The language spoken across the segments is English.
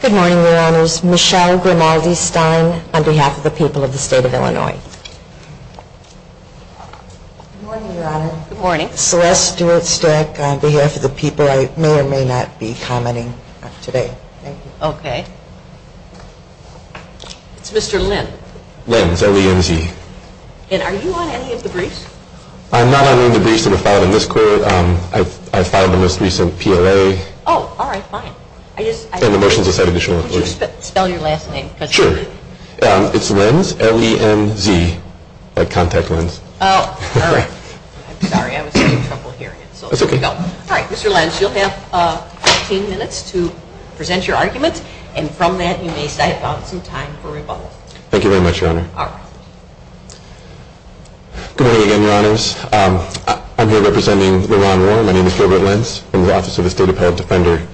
Good morning, your honors, Michelle Grimaldi-Stein on behalf of the people of the state of Illinois. Celeste Stewart-Streck on behalf of the people I may or may not be commenting on today. Mr. Lenz Lenz, L-E-N-Z Are you on any of the briefs? I'm not on any of the briefs that were filed in this court. I filed the most recent PLA. Oh, all right, fine. Can you spell your last name? Sure. It's Lenz, L-E-N-Z, like contact lens. Oh, all right. Sorry, I was having trouble hearing it. That's okay. All right, Mr. Lenz, you'll have 15 minutes to present your arguments, and from that you may set about some time for rebuttal. Thank you very much, your honor. You're welcome. Good morning again, your honors. I'm here representing LeRonn Warren. My name is Gilbert Lenz. I'm the Office of the State Appellate Defender.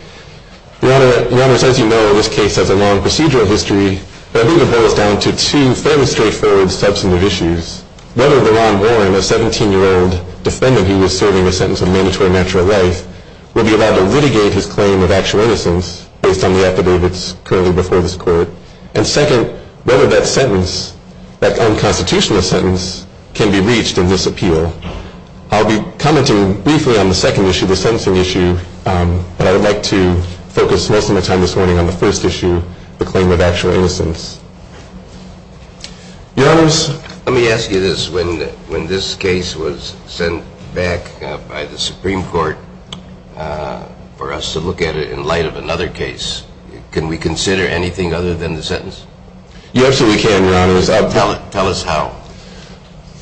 Your honor, as you know, this case has a long procedural history that even boils down to two fairly straightforward substantive issues. First, whether LeRonn Warren, a 17-year-old defendant who was serving a sentence of mandatory natural lay, would be allowed to litigate his claim of actual innocence based on the affidavits currently before this court. And second, whether that sentence, that unconstitutional sentence, can be reached in this appeal. I'll be commenting briefly on the second issue, the sentencing issue, but I would like to focus most of my time this morning on the first issue, the claim of actual innocence. Your honors, let me ask you this. When this case was sent back by the Supreme Court for us to look at it in light of another case, can we consider anything other than the sentence? Yes, we can, your honors. Tell us how.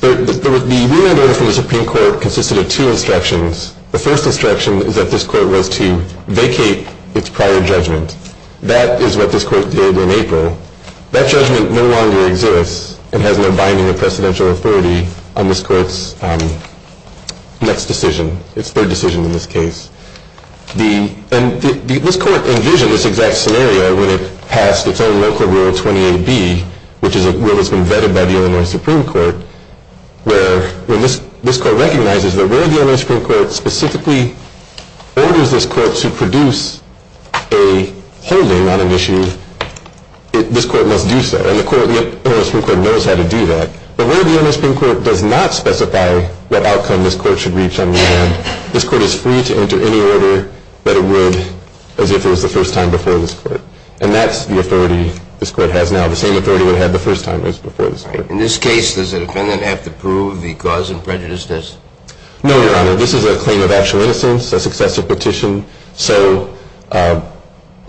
The ruling order for the Supreme Court consisted of two instructions. The first instruction is that this court was to vacate its prior judgment. That is what this court did in April. That judgment no longer exists and has no binding or precedential authority on this court's next decision, its third decision in this case. And this court envisioned this exact scenario when it passed its own local Rule 28B, which is a rule that's been vetted by the Illinois Supreme Court, where this court recognizes that where the Illinois Supreme Court specifically orders this court to produce a holding on an issue, this court must do so. And the Illinois Supreme Court knows how to do that. But where the Illinois Supreme Court does not specify what outcome this court should reach on the matter, this court is free to enter any order that it would as if it was the first time before this court. And that's the authority this court has now, the same authority it had the first time as before this time. In this case, does the defendant have to prove the cause of prejudicedness? No, Your Honor. This is a claim of actual innocence, a successive petition. So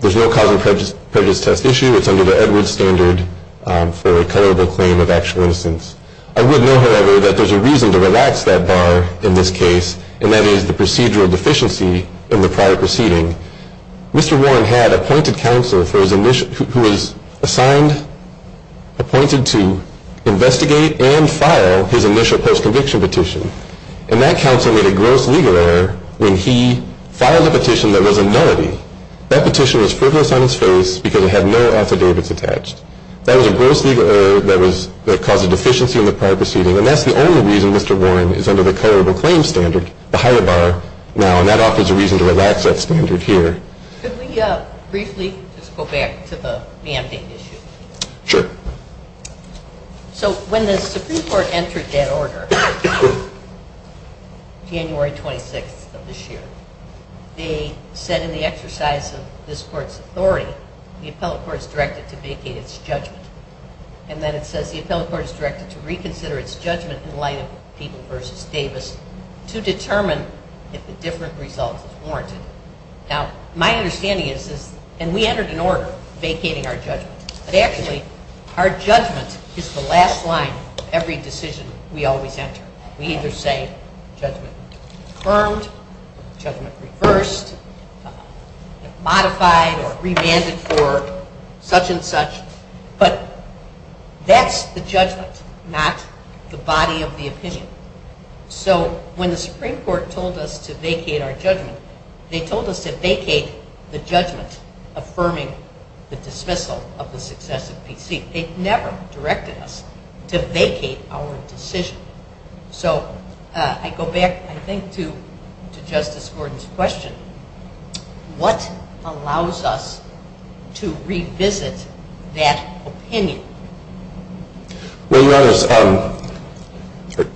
there's no cause of prejudicedness issue. It's under the evidence standard for a culpable claim of actual innocence. I would note, however, that there's a reason to relax that bar in this case, and that is the procedural deficiency in the prior proceeding. Mr. Warren had appointed counsel who was assigned, appointed to investigate and file his initial post-conviction petition. And that counsel made a gross legal error when he filed a petition that was a nullity. That petition was frivolous on its face because it had no affidavits attached. That was a gross legal error that caused a deficiency in the prior proceeding, and that's the only reason Mr. Warren is under the culpable claim standard behind the bar now, and that offers a reason to relax that standard here. Could we briefly just go back to the mandate issue? Sure. So when the Supreme Court entered that order, January 26th of this year, they said in the exercise of this court's authority, the appellate court is directed to vacate its judgment. And then it says the appellate court is directed to reconsider its judgment in light of Deaton v. Davis to determine if a different result is warranted. Now, my understanding is that, and we entered an order vacating our judgment, but actually our judgment is the last line of every decision we always enter. We either say judgment confirmed, judgment reversed, modified or revanded for such and such. But that's the judgment, not the body of the opinion. So when the Supreme Court told us to vacate our judgment, they told us to vacate the judgment affirming the dismissal of the successive PC. They've never directed us to vacate our decision. So I go back, I think, to Justice Gordon's question. What allows us to revisit that opinion? Well, Your Honor,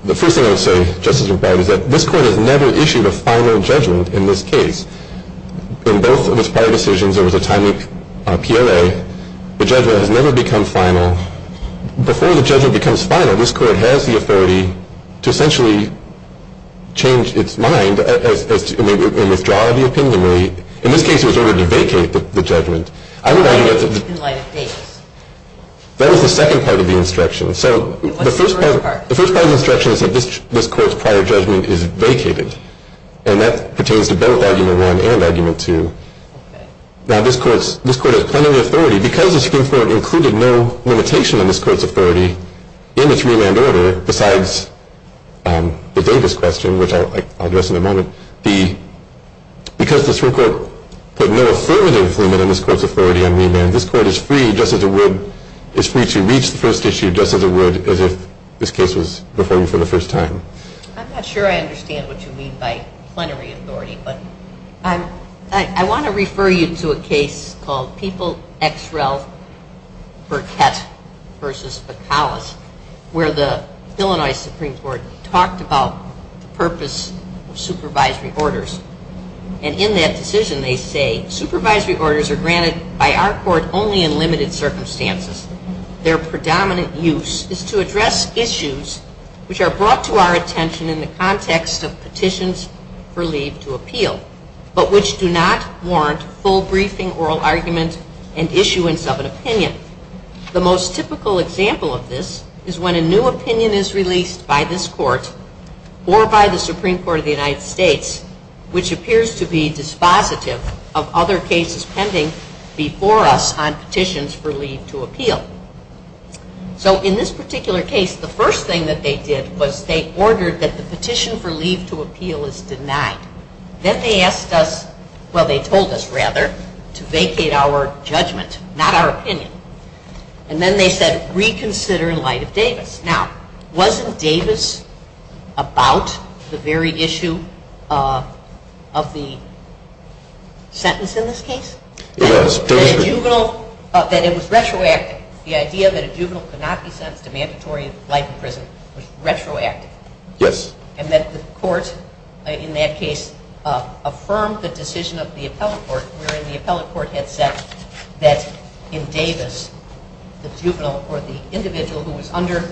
the first thing I would say, Justice McBride, is that this court has never issued a final judgment in this case. In both of its prior decisions, there was a time with PLA. The judgment had never become final. Before the judgment becomes final, this court has the authority to essentially change its mind and withdraw the opinion. In this case, it was ordered to vacate the judgment. That was the second part of the instruction. So the first part of the instruction is that this court's prior judgment is vacated, and that pertains to both Argument 1 and Argument 2. Now, this court has plenty of authority. Because the Supreme Court included no limitation on this court's authority in its revand order, besides the Davis question, which I'll address in a moment, because the Supreme Court put no affirmative limit on this court's authority on revand, this court is free to reach the first issue just as it would if this case was performed for the first time. I'm not sure I understand what you mean by plenary authority, but I want to refer you to a case called People x Rel for Test versus the College, where the Illinois Supreme Court talked about the purpose of supervisory orders. And in that decision, they say, Supervisory orders are granted by our court only in limited circumstances. Their predominant use is to address issues which are brought to our attention in the context of petitions for leave to appeal, but which do not warrant full briefing, oral argument, and issuance of an opinion. The most typical example of this is when a new opinion is released by this court or by the Supreme Court of the United States, which appears to be dispositive of other cases pending before us on petitions for leave to appeal. So in this particular case, the first thing that they did was they ordered that the petition for leave to appeal is denied. Then they asked us, well, they told us rather, to vacate our judgment, not our opinion. And then they said reconsider in light of Davis. Now, wasn't Davis about the very issue of the sentence in this case? That it was retroactive. The idea that a juvenile could not be sent to mandatory life imprisonment was retroactive. Yes. And that the court in that case affirmed the decision of the appellate court, wherein the appellate court had said that in Davis, the individual who was under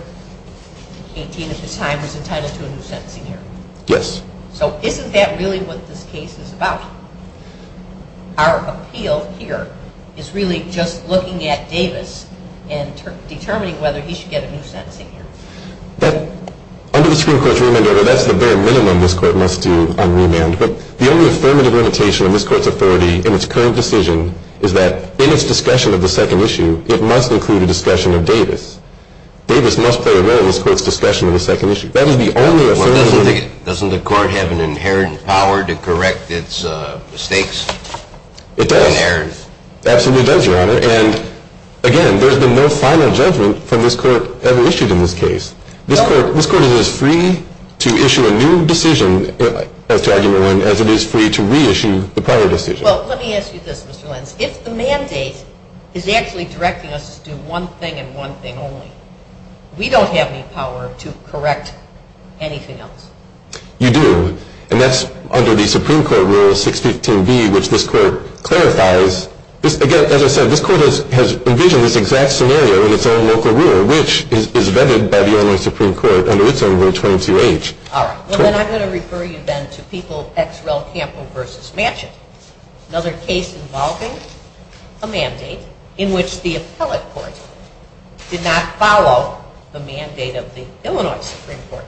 18 at the time was entitled to a new sentencing year. Yes. So isn't that really what this case was about? Our appeal here is really just looking at Davis and determining whether he should get a new sentencing year. Under the Supreme Court's remand order, that's the very minimum this court must do on remand. But the only affirmative indication of this court's authority in its current decision is that in its discussion of the second issue, it must include a discussion of Davis. Davis must play a role in this court's discussion of the second issue. That is the only affirmative indication. Well, doesn't the court have an inherent power to correct its mistakes? It does. Inherent. Yes. That's a revenge, Your Honor. And, again, there's been no final judgment from this court ever issued in this case. This court is as free to issue a new decision, as it is free to reissue the prior decision. Well, let me ask you this, Ms. Lentz. If the mandate is actually directing us to do one thing and one thing only, we don't have any power to correct anything else. You do. And that's under the Supreme Court Rule 615B, which this court clarifies. Again, as I said, this court has envisioned this exact scenario in its own local rule, which is vetted by the Illinois Supreme Court under its own Rule 22H. All right. Well, then I'm going to refer you, then, to People v. Campbell v. Manchin, another case involving a mandate in which the appellate courts did not follow the mandate of the Illinois Supreme Court.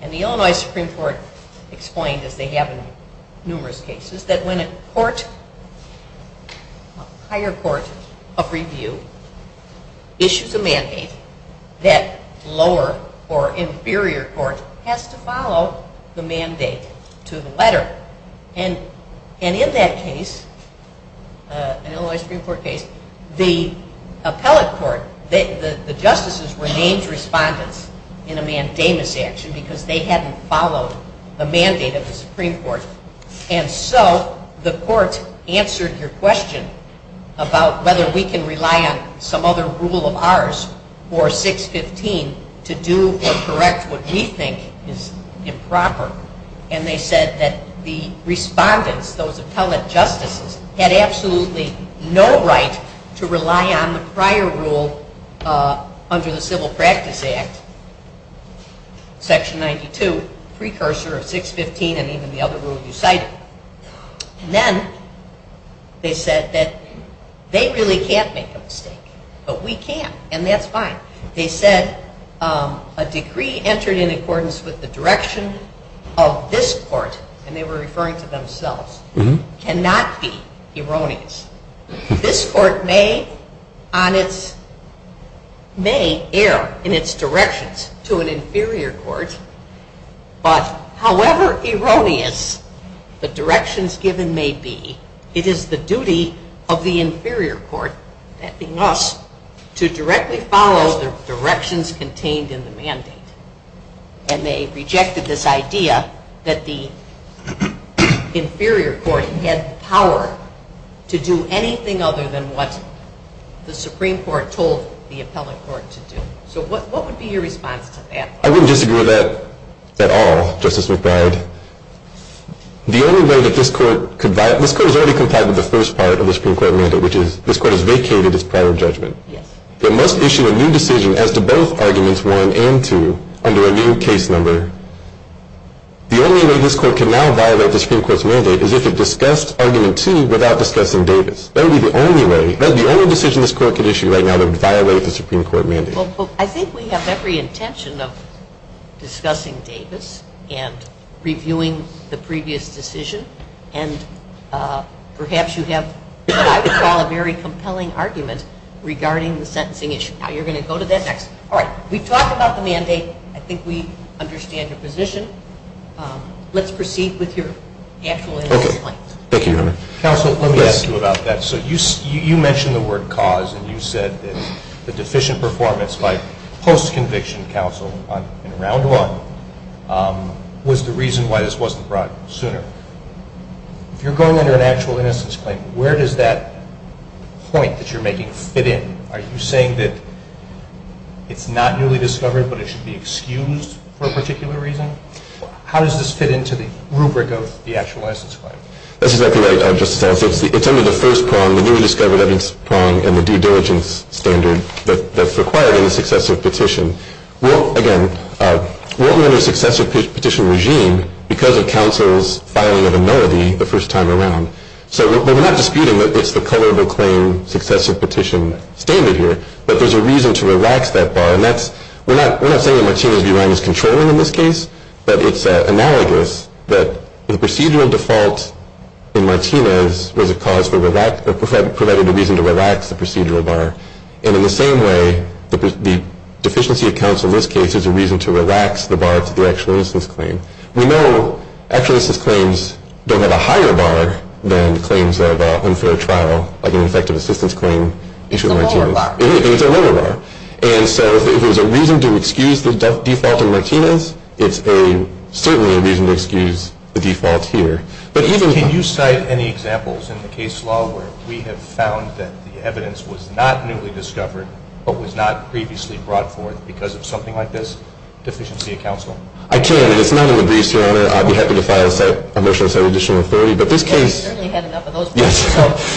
And the Illinois Supreme Court explained, as they have in numerous cases, that when a court, a higher court of review, issues a mandate, that lower or inferior court has to follow the mandate to the letter. And in that case, an Illinois Supreme Court case, the appellate court, the justices were named respondents in a mandamus action because they hadn't followed a mandate of the Supreme Court. And so the court answered their question about whether we can rely on some other rule of ours, or 615, to do or correct what we think is improper. And they said that the respondents, those appellate justices, had absolutely no right to rely on the prior rule under the Civil Practice Act, Section 92, precursor of 615 and even the other rule you cited. And then they said that they really can't make a mistake. But we can. And that's fine. They said a decree entered in accordance with the direction of this court, and they were referring to themselves, cannot be erroneous. This court may err in its directions to an inferior court, but however erroneous the directions given may be, it is the duty of the inferior court, asking us to directly follow the directions contained in the mandate. And they rejected this idea that the inferior court had the power to do anything other than what the Supreme Court told the appellate court to do. So what would be your response to that? I wouldn't disagree with that at all, Justice McBride. The only way that this court could violate, this court has already complied with the first part of the Supreme Court mandate, which is this court has vacated its prior judgment. It must issue a new decision as to both Arguments 1 and 2 under a new case number. The only way this court can now violate the Supreme Court's mandate is if it discussed Argument 2 without discussing Davis. That would be the only way. That would be the only decision this court could issue right now to violate the Supreme Court mandate. Well, I think we have every intention of discussing Davis and reviewing the previous decision, and perhaps you have what I would call a very compelling argument regarding the sentencing issue. Now you're going to go to that next. All right. We've talked about the mandate. I think we understand your position. Let's proceed with your actual analysis. Okay. Thank you, Your Honor. Counsel, let me ask you about that. So you mentioned the word cause, and you said that the deficient performance by post-conviction counsel in Round One was the reason why this wasn't brought sooner. If you're going under an actual innocence claim, where does that point that you're making fit in? Are you saying that it's not newly discovered but it should be excused for a particular reason? How does this fit into the rubric of the actual innocence claim? That's exactly right, Justice Adams. It's under the first prong, the newly discovered evidence prong, and the due diligence standard that's required in a successive petition. Well, again, we're under a successive petition regime because of counsel's filing of a melody the first time around. So we're not disputing that it's the coverable claim, successive petition standard here, but there's a reason to relax that bar, and we're not saying that Martina B. Ryan is controlling in this case, but it's analogous that the procedural default in Martina's provided a reason to relax the procedural bar. And in the same way, the deficiency of counsel in this case is a reason to relax the bar to the actual innocence claim. We know actual innocence claims don't have a higher bar than claims of unfair trial, like an effective assistance claim. It's a lower bar. It is a lower bar. And so if there's a reason to excuse the default in Martina's, it's certainly a reason to excuse the default here. Can you cite any examples in the case law where we have found that the evidence was not newly discovered but was not previously brought forth because of something like this, deficiency of counsel? I can. If no one agrees, Your Honor, I'd be happy to file a motion to set an additional authority. But this case – We've already had enough of those. Yes.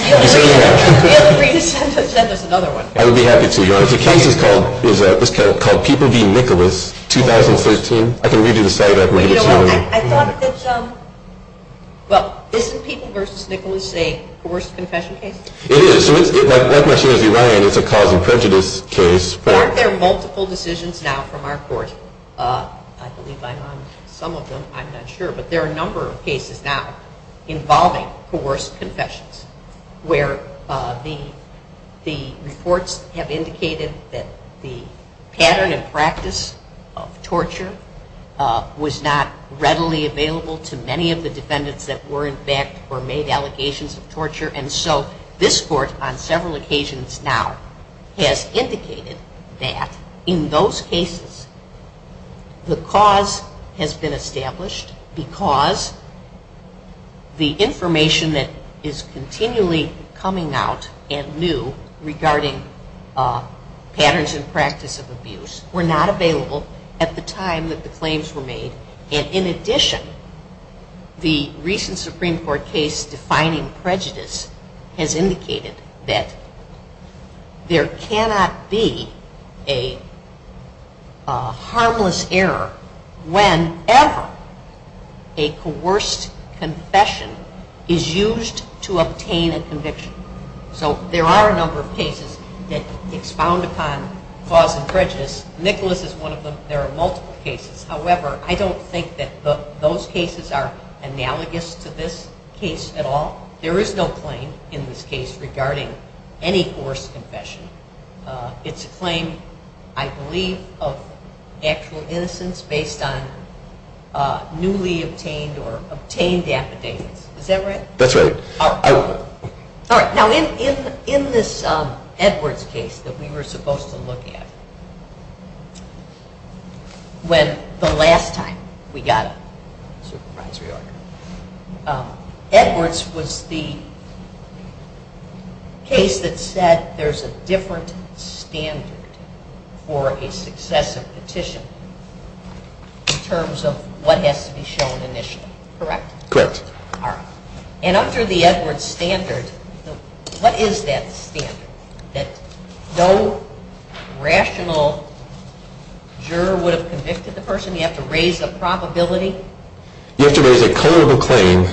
We have a great attempt at setting another one. I would be happy to, Your Honor. There's a case that was called Peter v. Nicholas, 2013. I can read you the cite-out later. But, Your Honor, I thought that this – well, isn't Peter v. Nicholas a coerced confession case? It is. My question would be why, and it's a cause of prejudice case. But aren't there multiple decisions now from our court? I believe I know some of them. I'm not sure. But there are a number of cases now involving coerced confessions, where the reports have indicated that the pattern and practice of torture was not readily available to many of the defendants that were, in fact, or made allegations of torture. And so this court, on several occasions now, has indicated that in those cases, the cause has been established because the information that is continually coming out and new regarding patterns and practice of abuse were not available at the time that the claims were made. And in addition, the recent Supreme Court case defining prejudice has indicated that there cannot be a harmless error whenever a coerced confession is used to obtain a conviction. So there are a number of cases that expound upon cause of prejudice. Nicholas is one of them. There are multiple cases. However, I don't think that those cases are analogous to this case at all. There is no claim in this case regarding any coerced confession. It's a claim, I believe, of actual innocence based on newly obtained or obtained affidavits. Is that right? That's right. All right. Now, in this Edwards case that we were supposed to look at, when the last time we got a supervisory order, Edwards was the case that said there's a different standard for a successive petition in terms of what has to be shown initially. Correct? Correct. All right. And under the Edwards standard, what is that standard? That no rational juror would have convicted the person? You have to raise the probability? You have to raise a culpable claim.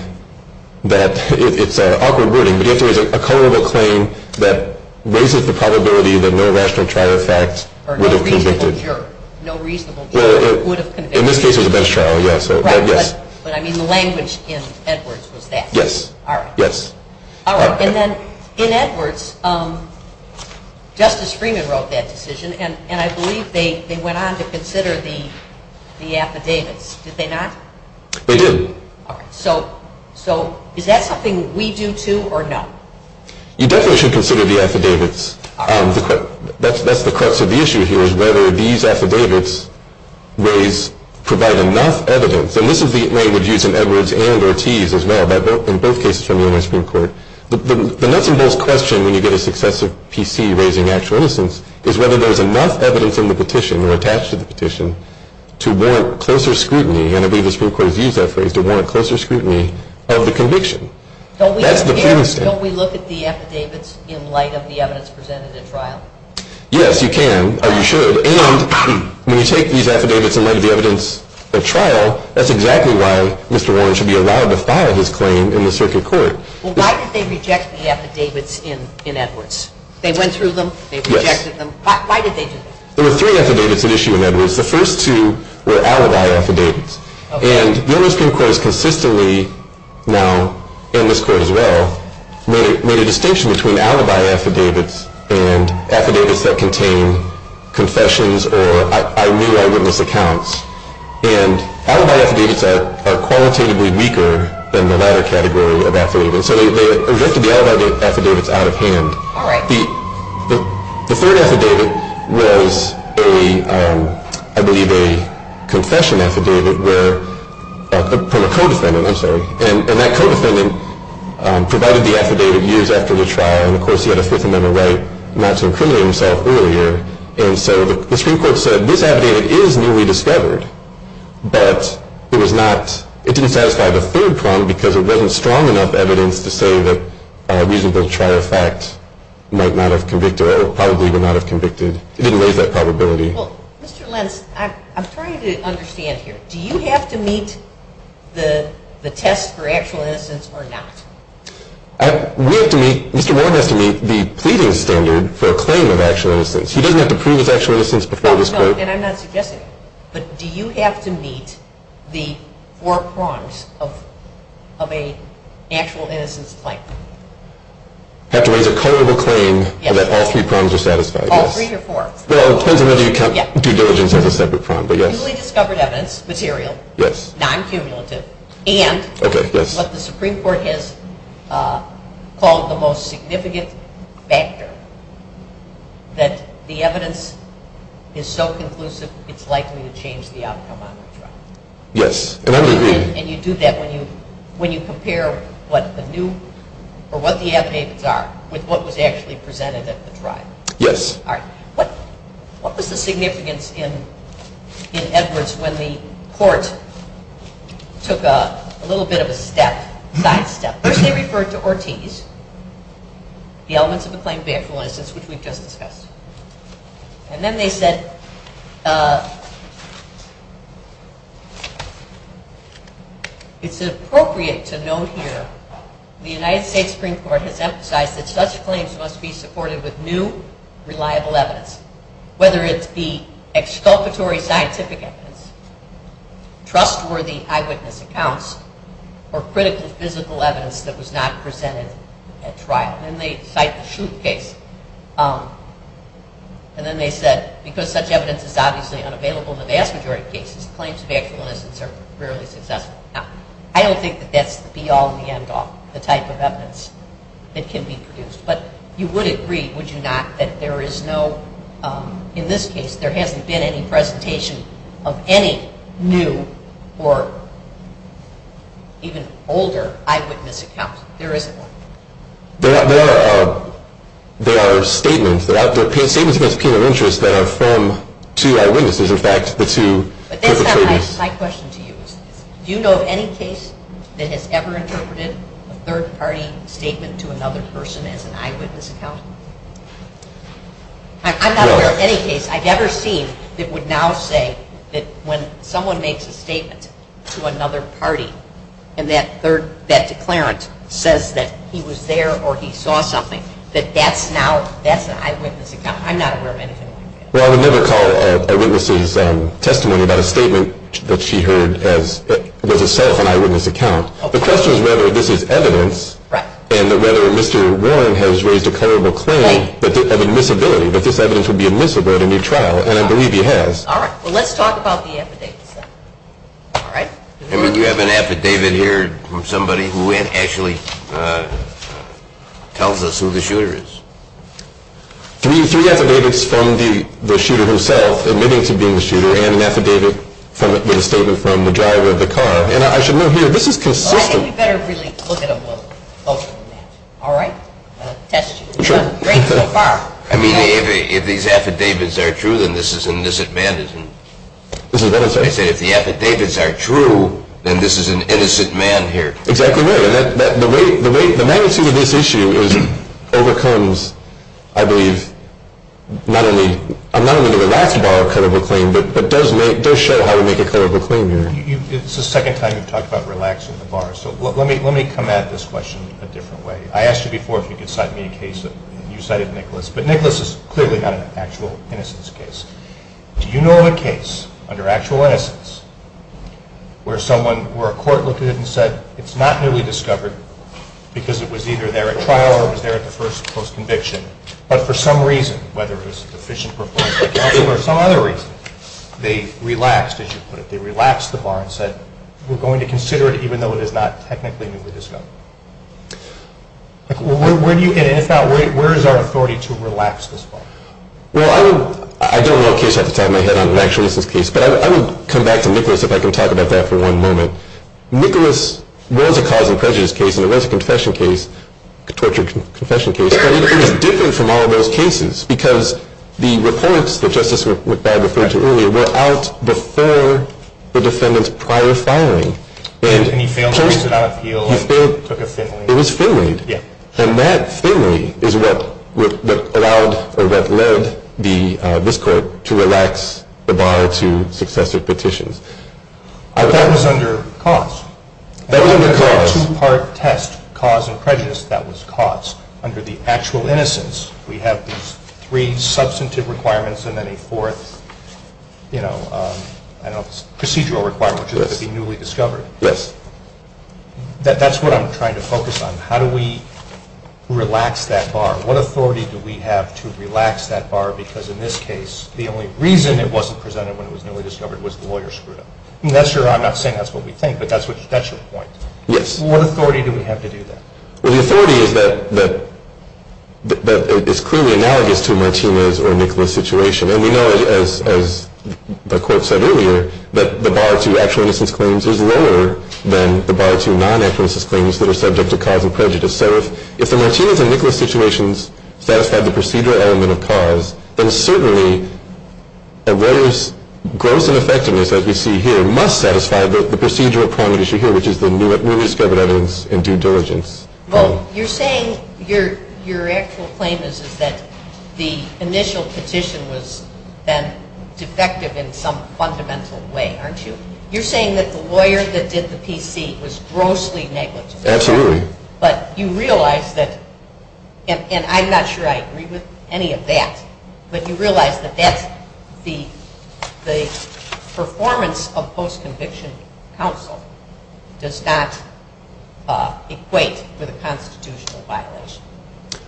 It's awkward wording, but you have to raise a culpable claim that raises the probability that no rational trial of fact would have convicted. Or no reasonable juror. No reasonable juror would have convicted. In this case, it's a bench trial, yes. Right, but I mean the language in Edwards was that. Yes. All right. And then in Edwards, Justice Freeman wrote that decision, and I believe they went on to consider the affidavits. Did they not? They did. All right. So is that something we do, too, or no? You definitely should consider the affidavits. That's the crux of the issue here is whether these affidavits provide enough evidence, and this is the language used in Edwards and Ortiz as well, in both cases from the U.S. Supreme Court. The nuts and bolts question when you get a successive PC raising actual innocence is whether there's enough evidence in the petition or attached to the petition to warrant closer scrutiny, and I believe the Supreme Court views that phrase, to warrant closer scrutiny of the conviction. Don't we look at the affidavits in light of the evidence presented at trial? Yes, you can, or you should. And when you take these affidavits in light of the evidence at trial, that's exactly why Mr. Warren should be allowed to file this claim in the circuit court. Well, why did they reject the affidavits in Edwards? They went through them, they rejected them. Why did they do that? There were three affidavits at issue in Edwards. The first two were alibi affidavits, and the U.S. Supreme Court has consistently, now in this court as well, made a distinction between alibi affidavits and affidavits that contain confessions or I-knew-I-witness accounts, and alibi affidavits are qualitatively weaker than the latter category of affidavits. So they rejected the alibi affidavits out of hand. The third affidavit was, I believe, a confession affidavit from a co-defendant, and that co-defendant provided the affidavit years after the trial, and of course he had a Fifth Amendment right not to imprison himself earlier, and so the Supreme Court said this affidavit is newly discovered, but it didn't satisfy the third point because it wasn't strong enough evidence to say that a reasonable trial fact might not have convicted, or probably would not have convicted. It didn't raise that probability. Well, Mr. Lentz, I'm trying to understand here. Do you have to meet the test for actual innocence or not? Mr. Warren has to meet the pleading standard for a claim of actual innocence. He doesn't have to prove his actual innocence before this court. And I'm not suggesting, but do you have to meet the four prongs of an actual innocence claim? You have to raise a colorable claim so that all three prongs are satisfied. All three or four? Well, it depends on whether you count due diligence as a separate prong, but yes. Newly discovered evidence, material, non-cumulative, and what the Supreme Court has called the most significant factor, that the evidence is so conclusive it's likely to change the outcome on the trial. Yes. And you do that when you prepare what the new or what the affidavits are with what was actually presented at the trial. Yes. All right. What was the significance in Edwards when the court took a little bit of a step, back step? First they referred to Ortiz, the elements of the claim of actual innocence, which we just discussed. And then they said it's appropriate to note here the United States Supreme Court has emphasized that such claims must be supported with new, reliable evidence, whether it's the exculpatory scientific evidence, trustworthy eyewitness accounts, or critical physical evidence that was not presented at trial. And they cite the Schluth case. And then they said because such evidence is obviously unavailable in the vast majority of cases, claims of actual innocence are rarely successful. I don't think that that's beyond the end of the type of evidence that can be produced. But you would agree, would you not, that there is no, in this case, there hasn't been any presentation of any new or even older eyewitness accounts. There is one. There are statements. There are statements against people of interest that are firm to eyewitnesses, in fact, But this is my question to you. Do you know of any case that has ever interpreted a third-party statement to another person as an eyewitness account? I'm not aware of any case I've ever seen that would now say that when someone makes a statement to another party and that declarant says that he was there or he saw something, that that's now, that's an eyewitness account. I'm not aware of anything like that. Well, I would never call an eyewitness's testimony about a statement that she heard was herself an eyewitness account. The question is whether this is evidence and whether Mr. Warren has raised a credible claim of admissibility, that this evidence would be admissible at a new trial, and I believe he has. All right. Well, let's talk about the affidavits. All right. Henry, do you have an affidavit here from somebody who actually tells us who the shooter is? Can we use three affidavits from the shooter himself? And maybe it could be the shooter and an affidavit from the driver of the car. And I should note here, this is consistent. Well, I think we better really look at them both. All right? I'll test you. Great so far. I mean, if these affidavits are true, then this is an innocent man. This is innocent. I said if the affidavits are true, then this is an innocent man here. Exactly right. The magnitude of this issue overcomes, I believe, not only the relaxed bar of a credible claim, but it does show how to make a credible claim here. It's the second time you've talked about relaxing the bar. So let me come at this question in a different way. I asked you before if you could cite me a case that you cited Nicholas, but Nicholas is clearly not an actual innocence case. Do you know of a case under actual innocence where a court looked at it and said, it's not newly discovered because it was either there at trial or it was there at the first post-conviction, but for some reason, whether it was sufficient performance or not, or for some other reason, they relaxed, as you put it, they relaxed the bar and said, we're going to consider it even though it is not technically newly discovered. Where do you get it? If not, where is our authority to relax this bar? Well, I don't know what case I have to tie my head on with an actual innocence case, but I will come back to Nicholas if I can talk about that for one moment. Nicholas was a causing prejudice case and it was a confession case, a tortured confession case, but it was different from all those cases because the reports that Justice McBad referred to earlier were out before the defendant's prior firing. And he failed to reach an appeal and took a thin lead. It was thin lead. Yeah. And that thin lead is what led this court to relax the bar to successive petitions. But that was under cost. That was a two-part test, cause and prejudice. That was cost. Under the actual innocence, we have these three substantive requirements and then a fourth procedural requirement to be newly discovered. Yes. That's what I'm trying to focus on. How do we relax that bar? What authority do we have to relax that bar? Because in this case, the only reason it wasn't presented when it was newly discovered was the lawyer screwed up. That's true. I'm not saying that's what we think, but that's what you're potentially pointing to. Yes. What authority do we have to do that? Well, the authority is that it's clearly analogous to Martinez or Nicholas' situation. And we know, as the court said earlier, that the bar to actual innocence claims is lower than the bar to non-actual innocence claims that are subject to causing prejudice. So if the Martinez and Nicholas situations satisfy the procedural element of cause, then certainly a lawyer's gross ineffectiveness, as we see here, must satisfy the procedural point that you see here, which is the newly discovered evidence in due diligence. Well, you're saying your actual claim is that the initial condition was then defective in some fundamental way, aren't you? You're saying that the lawyer that did the PDC was grossly negligent. Absolutely. But you realize that, and I'm not sure I agree with any of that, but you realize that the performance of post-conviction counsel does not equate with a constitutional violation.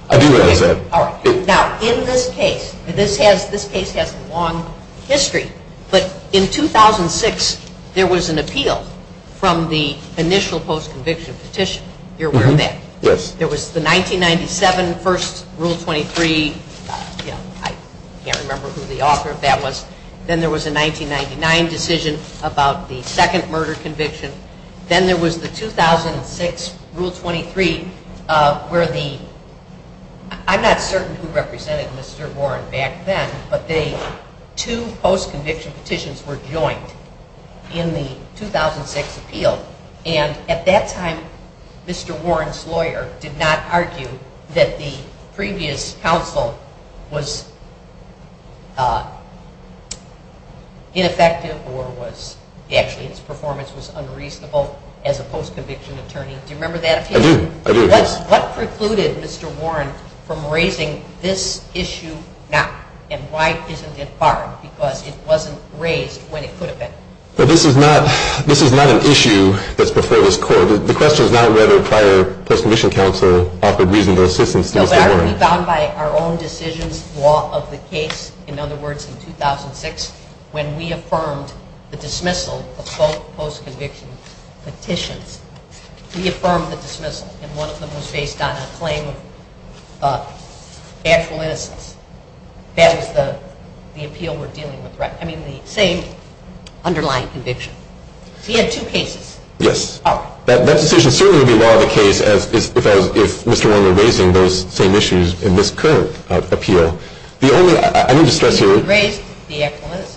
I do agree with that. Now, in this case, and this case has a long history, but in 2006 there was an appeal from the initial post-conviction petition. You're aware of that? Yes. There was the 1997 first Rule 23. I can't remember who the author of that was. Then there was a 1999 decision about the second murder conviction. Then there was the 2006 Rule 23 for the – I'm not certain who represented Mr. Warren back then, but the two post-conviction petitions were joined in the 2006 appeal, and at that time Mr. Warren's lawyer did not argue that the previous counsel was ineffective or actually its performance was unreasonable as a post-conviction attorney. Do you remember that appeal? I do. I do. What precluded Mr. Warren from raising this issue not? And why isn't it barred? Because it wasn't raised when it could have been. But this is not an issue that's before this court. The question is now whether prior post-conviction counsel offered reasonable assistance to Mr. Warren. No, but that was found by our own decision law of the case. In other words, in 2006, when we affirmed the dismissal of both post-conviction petitions, we affirmed the dismissal, and most of it was based on a claim of factual innocence. That is the appeal we're dealing with, right? I mean the same underlying conviction. He had two cases. Yes. That decision certainly would be law of the case if Mr. Warren were raising those same issues in this current appeal. The only, I need to stress here. He didn't raise the excellence.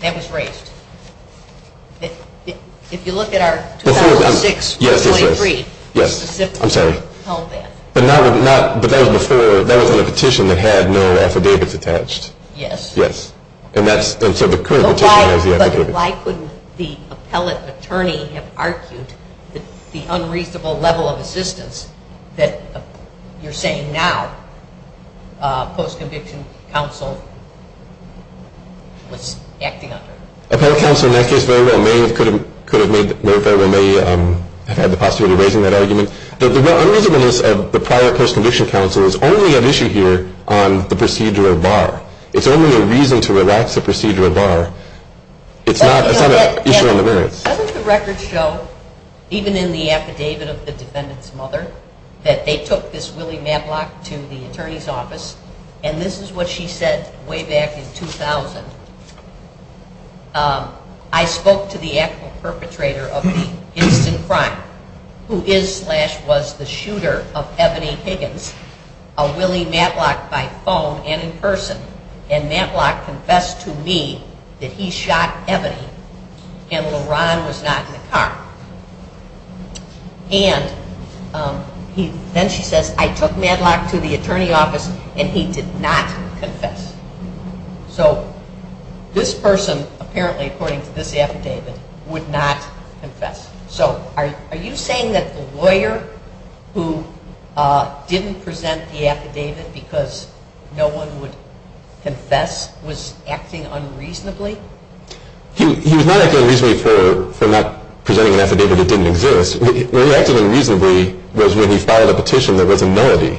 That was raised. If you look at our 2006 23. Yes. I'm sorry. But that was before, that was on a petition that had no affidavits attached. Yes. Yes. And that's, and so the current appeal. But why couldn't the appellate attorney have argued the unreasonable level of assistance that you're saying now post-conviction counsel was acting under? Appellate counsel in that case very well may have could have made, very well may have had the possibility of raising that argument. The only reason is the prior post-conviction counsel is only an issue here on the procedure of bar. It's only a reason to relax the procedure of bar. It's not an issue on the merits. Doesn't the record show, even in the affidavit of the defendant's mother, that they took this Willie Matlock to the attorney's office, and this is what she said way back in 2000. I spoke to the actual perpetrator of the incident in front, who is slash was the shooter of Ebony Higgins, a Willie Matlock by phone and in person, and Matlock confessed to me that he shot Ebony and LaRon was not in the car. And then she says, I took Matlock to the attorney's office and he did not confess. So this person, apparently, according to this affidavit, would not confess. So are you saying that the lawyer who didn't present the affidavit because no one would confess was acting unreasonably? He was not acting unreasonably for not presenting an affidavit that didn't exist. Where he acted unreasonably was when he filed a petition that was a melody.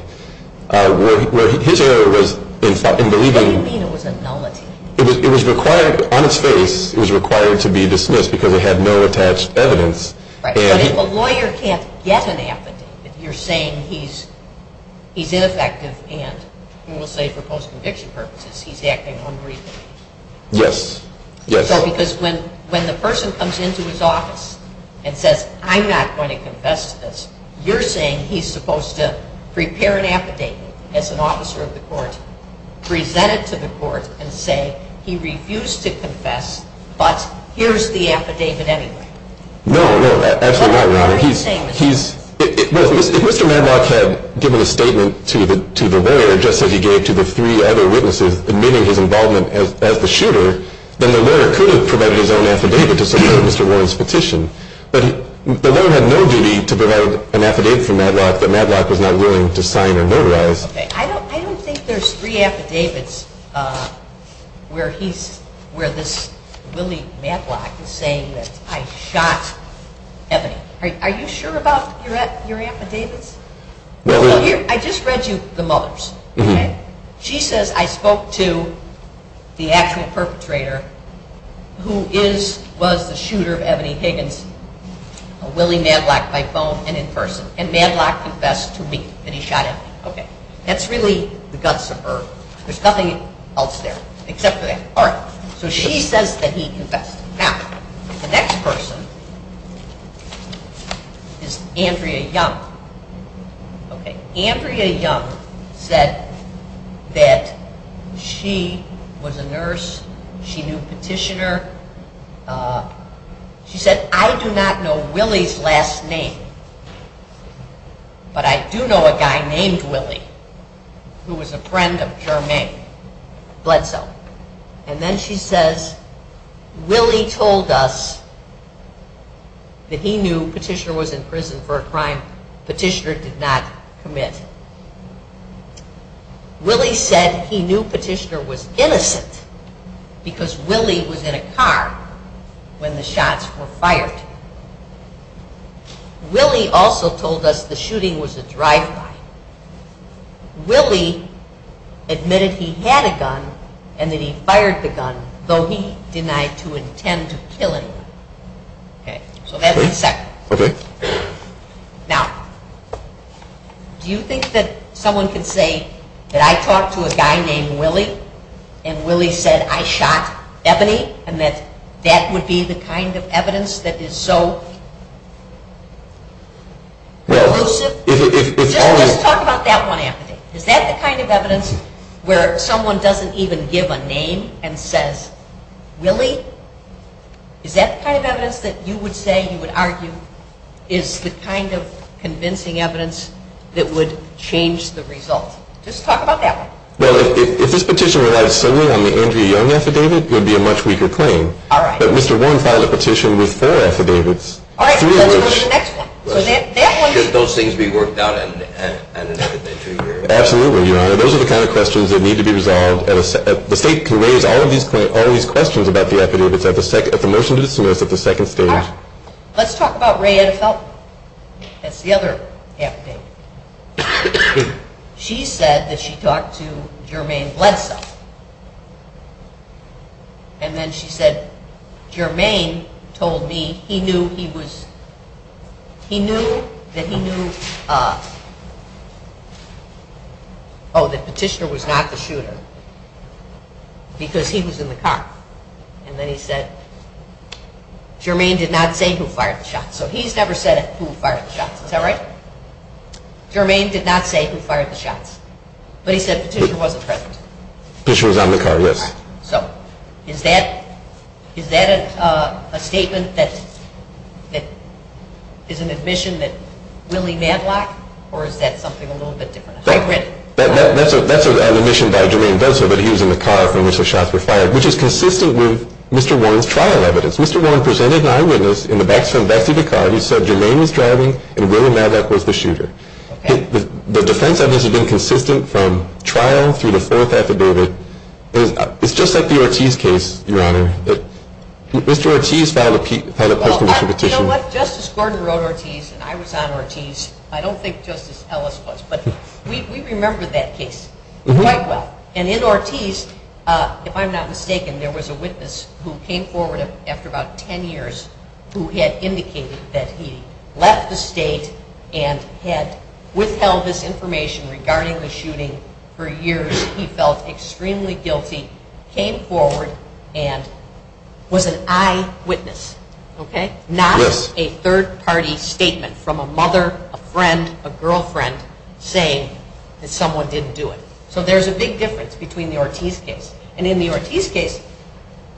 Where his error was in believing... What do you mean it was a melody? It was required, on its face, it was required to be dismissed because it had no attached evidence. But if a lawyer can't get an affidavit, you're saying he's ineffective and you will say for post-conviction purposes he's acting unreasonably. Yes. Because when the person comes into his office and says, I'm not going to confess to this, you're saying he's supposed to prepare an affidavit as an officer of the court, present it to the court, and say he refused to confess, but here's the affidavit anyway. No, no, that's not right, Your Honor. If Mr. Medlock had given a statement to the lawyer just as he gave to the three other witnesses admitting his involvement as the shooter, then the lawyer could have provided his own affidavit to support Mr. Warren's petition. But the lawyer had no duty to provide an affidavit for Medlock that Medlock is not willing to sign or notarize. I don't think there's three affidavits where this Willie Medlock is saying that I shot Ebony. Are you sure about your affidavits? I just read you the Muller's. She says, I spoke to the actual perpetrator who was the shooter of Ebony Higgins. Willie Medlock by phone and in person. And Medlock confessed to me that he shot Ebony. That's really the guts of her. There's nothing else there except for that. So she says that he confessed. Now, the next person is Andrea Young. Andrea Young said that she was a nurse. She knew Petitioner. She said, I do not know Willie's last name, but I do know a guy named Willie who was a friend of Jermaine Bledsoe. And then she says, Willie told us that he knew Petitioner was in prison for a crime Petitioner did not commit. Willie said he knew Petitioner was innocent because Willie was in a car when the shots were fired. Willie also told us the shooting was a drive-by. Willie admitted he had a gun and that he fired the gun, though he denied to intend to kill anyone. So that's the second. Now, do you think that someone could say that I talked to a guy named Willie and Willie said I shot Ebony and that that would be the kind of evidence that is so elusive? Let's talk about that one, Anthony. Is that the kind of evidence where someone doesn't even give a name and says, Willie? Is that the kind of evidence that you would say, you would argue, is the kind of convincing evidence that would change the result? Just talk about that one. Well, if this petition were not solely on the Andrea Young affidavit, it would be a much weaker claim. But Mr. Warren filed a petition with her affidavits. All right, so let's go to the next one. Should those things be worked out in another two years? Absolutely, Your Honor. Those are the kind of questions that need to be resolved. The state can raise all of these questions about the affidavits at the motion to dismiss at the second hearing. Let's talk about Rae Ann Felton. That's the other affidavit. She said that she talked to Jermaine Glensa. And then she said, Jermaine told me he knew he was, he knew that he knew, oh, that Petitioner was not the shooter because he was in the car. And then he said, Jermaine did not say who fired the shot. So he's never said who fired the shot. Is that right? Jermaine did not say who fired the shot. But he said Petitioner wasn't present. Petitioner was on the car, yes. So is that a statement that is an admission that Willie Madlock, or is that something a little bit different? That's an admission by Jermaine Glensa that he was in the car in which the shots were fired, which is consistent with Mr. Warren's trial evidence. Mr. Warren presented an eyewitness in the back seat of the car who said Jermaine was driving and Willie Madlock was the shooter. The defense evidence has been consistent from trial through the fourth affidavit. It's just like the Ortiz case, Your Honor. Mr. Ortiz filed a personal petition. You know what? Justice Gordon wrote Ortiz and I was on Ortiz. I don't think Justice Ellis was, but we remember that case quite well. And in Ortiz, if I'm not mistaken, there was a witness who came forward after about 10 years who had indicated that he left the state and had withheld his information regarding the shooting for years. He felt extremely guilty, came forward, and was an eyewitness, okay? Not a third-party statement from a mother, a friend, a girlfriend saying that someone didn't do it. So there's a big difference between the Ortiz case. And in the Ortiz case,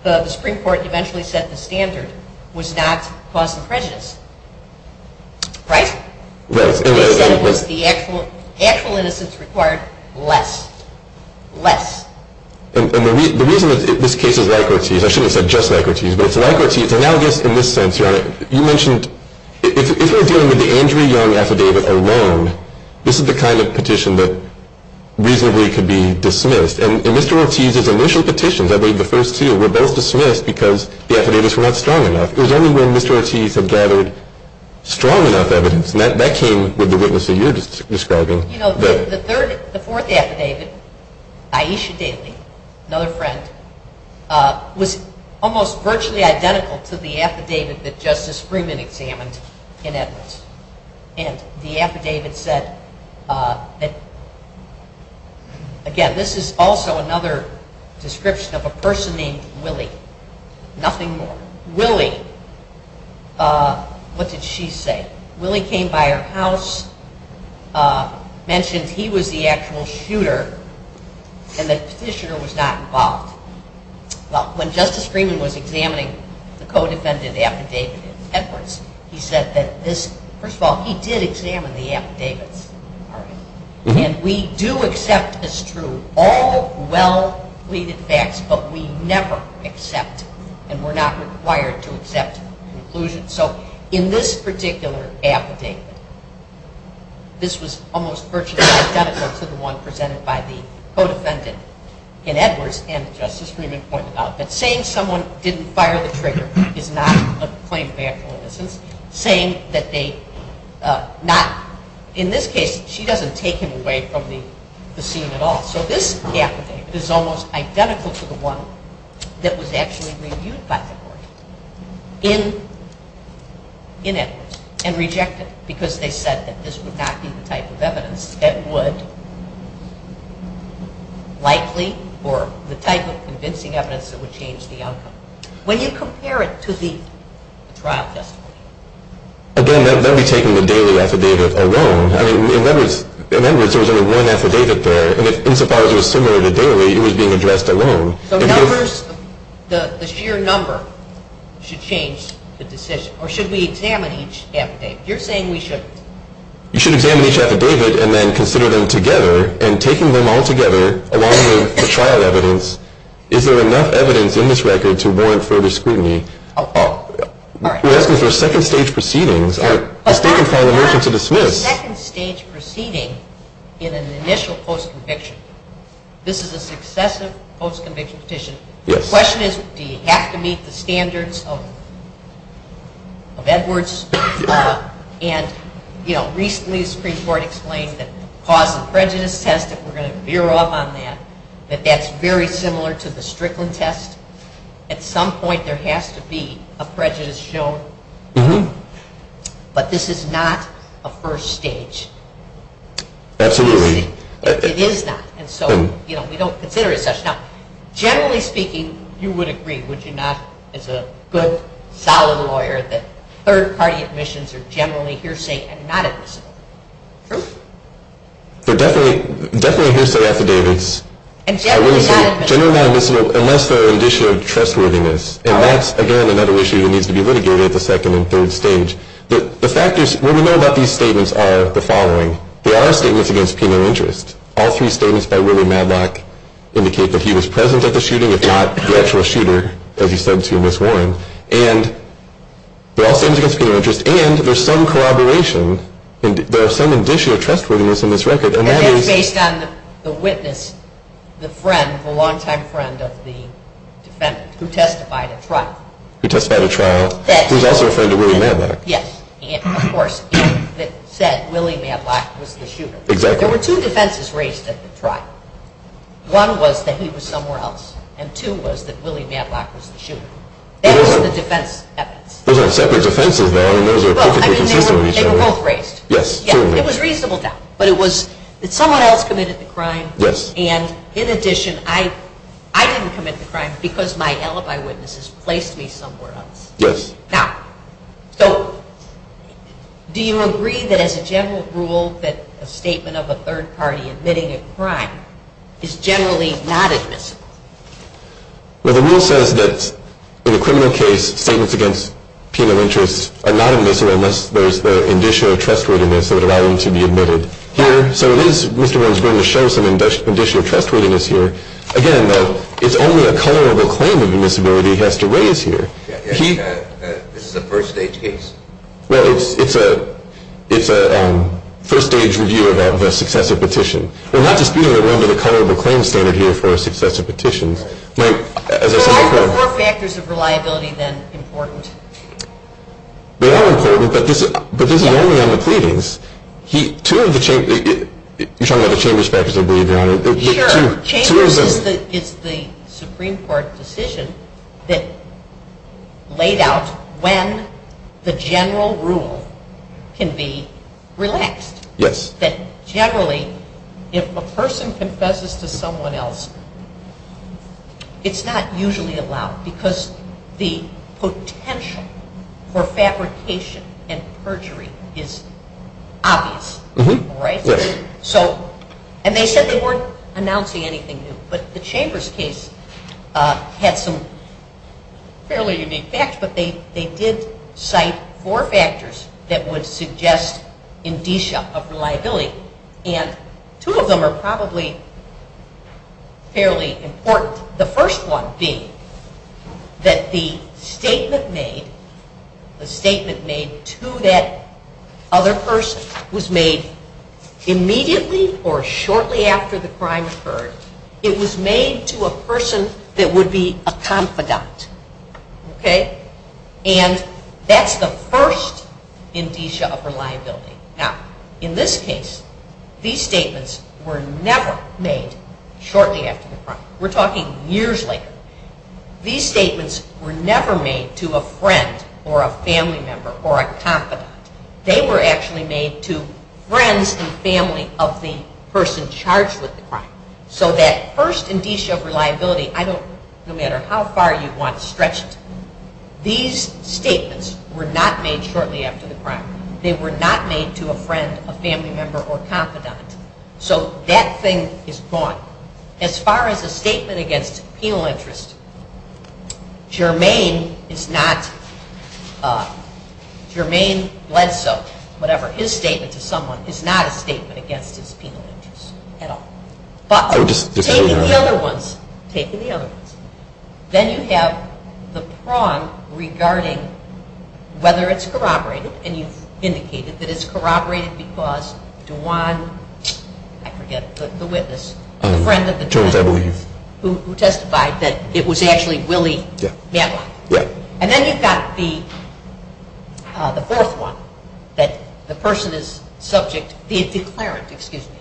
the Supreme Court eventually said the standard was not cause of prejudice. Right? Right. The actual innocence required less. Less. And the reason is, this case is like Ortiz. I shouldn't have said just like Ortiz, but it's like Ortiz. And I guess in this sense, Your Honor, you mentioned if we're dealing with the Andrew Young affidavit alone, this is the kind of petition that reasonably could be dismissed. And Mr. Ortiz's initial petitions, I believe the first two, were both dismissed because the affidavits were not strong enough. It was only when Mr. Ortiz had gathered strong enough evidence, and that came with the witness that you're describing. You know, the fourth affidavit, Aisha Daley, another friend, was almost virtually identical to the affidavit that Justice Freeman examined in Edmonds. And the affidavit said that, again, this is also another description of a person named Willie. Nothing more. Willie, what did she say? Willie came by her house, mentioned he was the actual shooter, and that his shooter was not involved. Well, when Justice Freeman was examining the co-defendant affidavit in Edmonds, he said that this, first of all, he did examine the affidavits. And we do accept as true all well-pleaded facts, but we never accept, and we're not required to accept conclusions. So in this particular affidavit, this was almost virtually identical to the one presented by the co-defendant in Edmonds, and Justice Freeman points out that saying someone didn't fire the trigger is not a point of accuracy. In this case, she doesn't take him away from the scene at all. So this affidavit is almost identical to the one that was actually reviewed by the court in Edmonds, and rejected because they said that this would not be the type of evidence that would likely, or the type of convincing evidence that would change the outcome. When you compare it to the trial testimony. Again, that would be taking the daily affidavit alone. I mean, in Edmonds, there was only one affidavit there, and as far as it was similar to daily, it was being addressed alone. So numbers, the sheer number should change the decision, or should we examine each affidavit? You're saying we should. You should examine each affidavit and then consider them together, and taking them all together along with the trial evidence, is there enough evidence in this record to warrant further scrutiny? I'll follow. All right. For instance, there are second-stage proceedings. I think I'm calling a motion to dismiss. A second-stage proceeding in an initial post-conviction. This is a successive post-conviction petition. The question is, do you have to meet the standards of Edwards? And, you know, recently the Supreme Court explained that because the prejudice test, and we're going to veer off on that, that that's very similar to the Strickland test. At some point there has to be a prejudice show. But this is not a first stage. Absolutely. It is not. And so, you know, we don't consider it such. Now, generally speaking, you would agree, would you not, as a good, solid lawyer, that third-party admissions are generally hearsay and not admissible. True? They're definitely hearsay affidavits. And generally not admissible. Generally not admissible unless there is issue of trustworthiness. And that's, again, another issue that needs to be litigated at the second and third stage. The fact is, what we know about these statements are the following. They are statements against penal interest. All three statements by Willie Madlock indicate that he was present at the shooting, if not the actual shooter, as he said to Ms. Warren. And they're all statements against penal interest. And there's some collaboration. There is some addition of trustworthiness in this record. And that's based on the witness, the friend, the longtime friend of the defendant, who testified at trial. He testified at trial. He's also a friend of Willie Madlock. Yes. And, of course, it said Willie Madlock was the shooter. Exactly. There were two defenses raised at the trial. One was that he was somewhere else. And two was that Willie Madlock was the shooter. They were the defense's evidence. There was a second defense, and there was a prosecution. Well, I mean, they were both raised. Yes. It was reasonable doubt. But it was that someone else committed the crime. Yes. And, in addition, I didn't commit the crime because my alibi witnesses placed me somewhere else. Yes. Now, so do you agree that, as a general rule, that a statement of a third party admitting a crime is generally not admissible? Well, the rule says that, in a criminal case, statements against penal interest are not admissible unless there is the addition of trustworthiness that would allow them to be admitted. Here, so at least Mr. Wynn is going to show some addition of trustworthiness here. Again, it's only a color of a claim of admissibility he has to raise here. This is a first-stage case. Well, it's a first-stage review of a successive petition. We're not disputing a little bit of color of a claim standard here for a successive petition. There are more factors of reliability than importance. They are important, but this is only one of the pleadings. Two of the chambers... You're talking about the chamber's facts that are being drawn. Sure. Chambers is the Supreme Court decision that laid out when the general rule can be relaxed. Yes. That generally, if a person confesses to someone else, it's not usually allowed because the potential for fabrication and perjury is obvious. Right? Right. And they said they weren't announcing anything new, but the chambers case had some fairly unique facts, but they did cite four factors that would suggest indicia of reliability, and two of them are probably fairly important. The first one being that the statement made to that other person was made immediately or shortly after the crime occurred. It was made to a person that would be a confidant. Okay? And that's the first indicia of reliability. Now, in this case, these statements were never made shortly after the crime. We're talking years later. These statements were never made to a friend or a family member or a confidant. They were actually made to friends and family of the person charged with the crime. So that first indicia of reliability, no matter how far you want to stretch it, these statements were not made shortly after the crime. They were not made to a friend, a family member, or a confidant. So that thing is gone. As far as a statement against penal interest, Jermaine is not, Jermaine Ledsoe, whatever, his statement to someone is not a statement against his penal interest at all. But taking the other ones, taking the other ones, then you have the prong regarding whether it's corroborated, and you indicated that it's corroborated because DeJuan, I forget, the witness, who testified that it was actually Willie, and then you've got the fourth one, that the person is subject, the declarant, excuse me,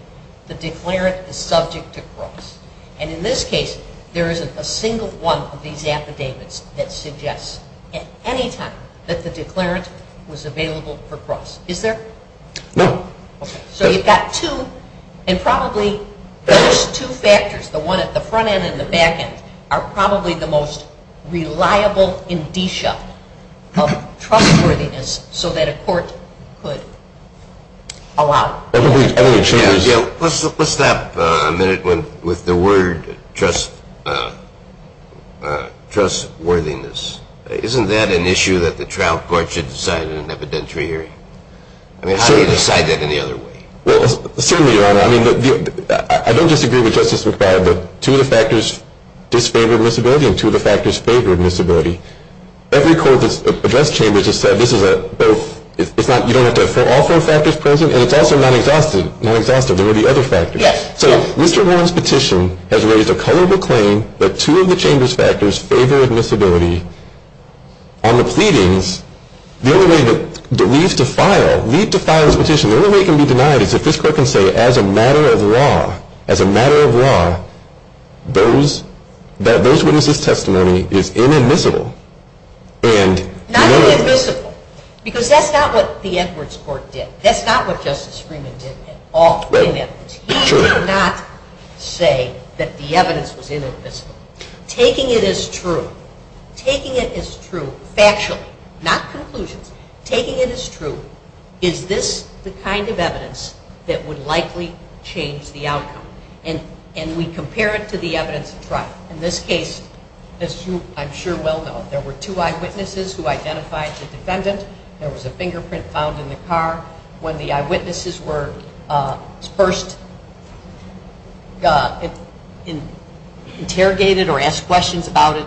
the declarant is subject to cross. And in this case, there isn't a single one of these affidavits that suggests at any time that the declarant was available for cross. Is there? No. So you've got two, and probably those two factors, the one at the front end and the back end, are probably the most reliable indicia of trustworthiness so that a court could allow it. Let's stop a minute with the word trustworthiness. Isn't that an issue that the trial court should decide in an evidentiary? I mean, how do you decide that in the other way? Well, certainly, Your Honor, I mean, I don't disagree with Justice McFarland, but two of the factors disfavor admissibility and two of the factors favor admissibility. Every court that's addressed chambers has said this is a, so you don't have to have all four factors present, and it's also non-exhaustive. Non-exhaustive. There would be other factors. Yes. So Mr. Warren's petition has raised a color of acclaim that two of the chamber's factors favor admissibility. On the pleadings, the only way that leads to file, leads to file a petition, the only way it can be denied is if this court can say as a matter of law, as a matter of law, that those who resist testimony is inadmissible. Not inadmissible, because that's not what the Edwards Court did. That's not what Justice Screamin did at all. He did not say that the evidence was inadmissible. Taking it as true, taking it as true factually, not conclusion, taking it as true, is this the kind of evidence that would likely change the outcome? And we compare it to the evidence of trial. In this case, as you I'm sure well know, there were two eyewitnesses who identified the defendant. There was a fingerprint found in the car. When the eyewitnesses were first interrogated or asked questions about it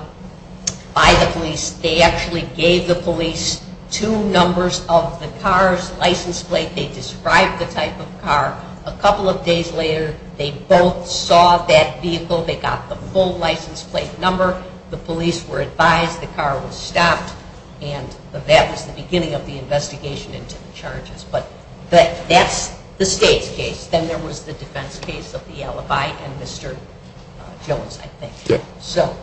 by the police, they actually gave the police two numbers of the car's license plate. They described the type of car. A couple of days later, they both saw that vehicle. They got the full license plate number. The police were advised the car was stopped, and that was the beginning of the investigation into the charges. But that's the state's case. Then there was the defense case of the LFI and Mr. Phillips, I think. So,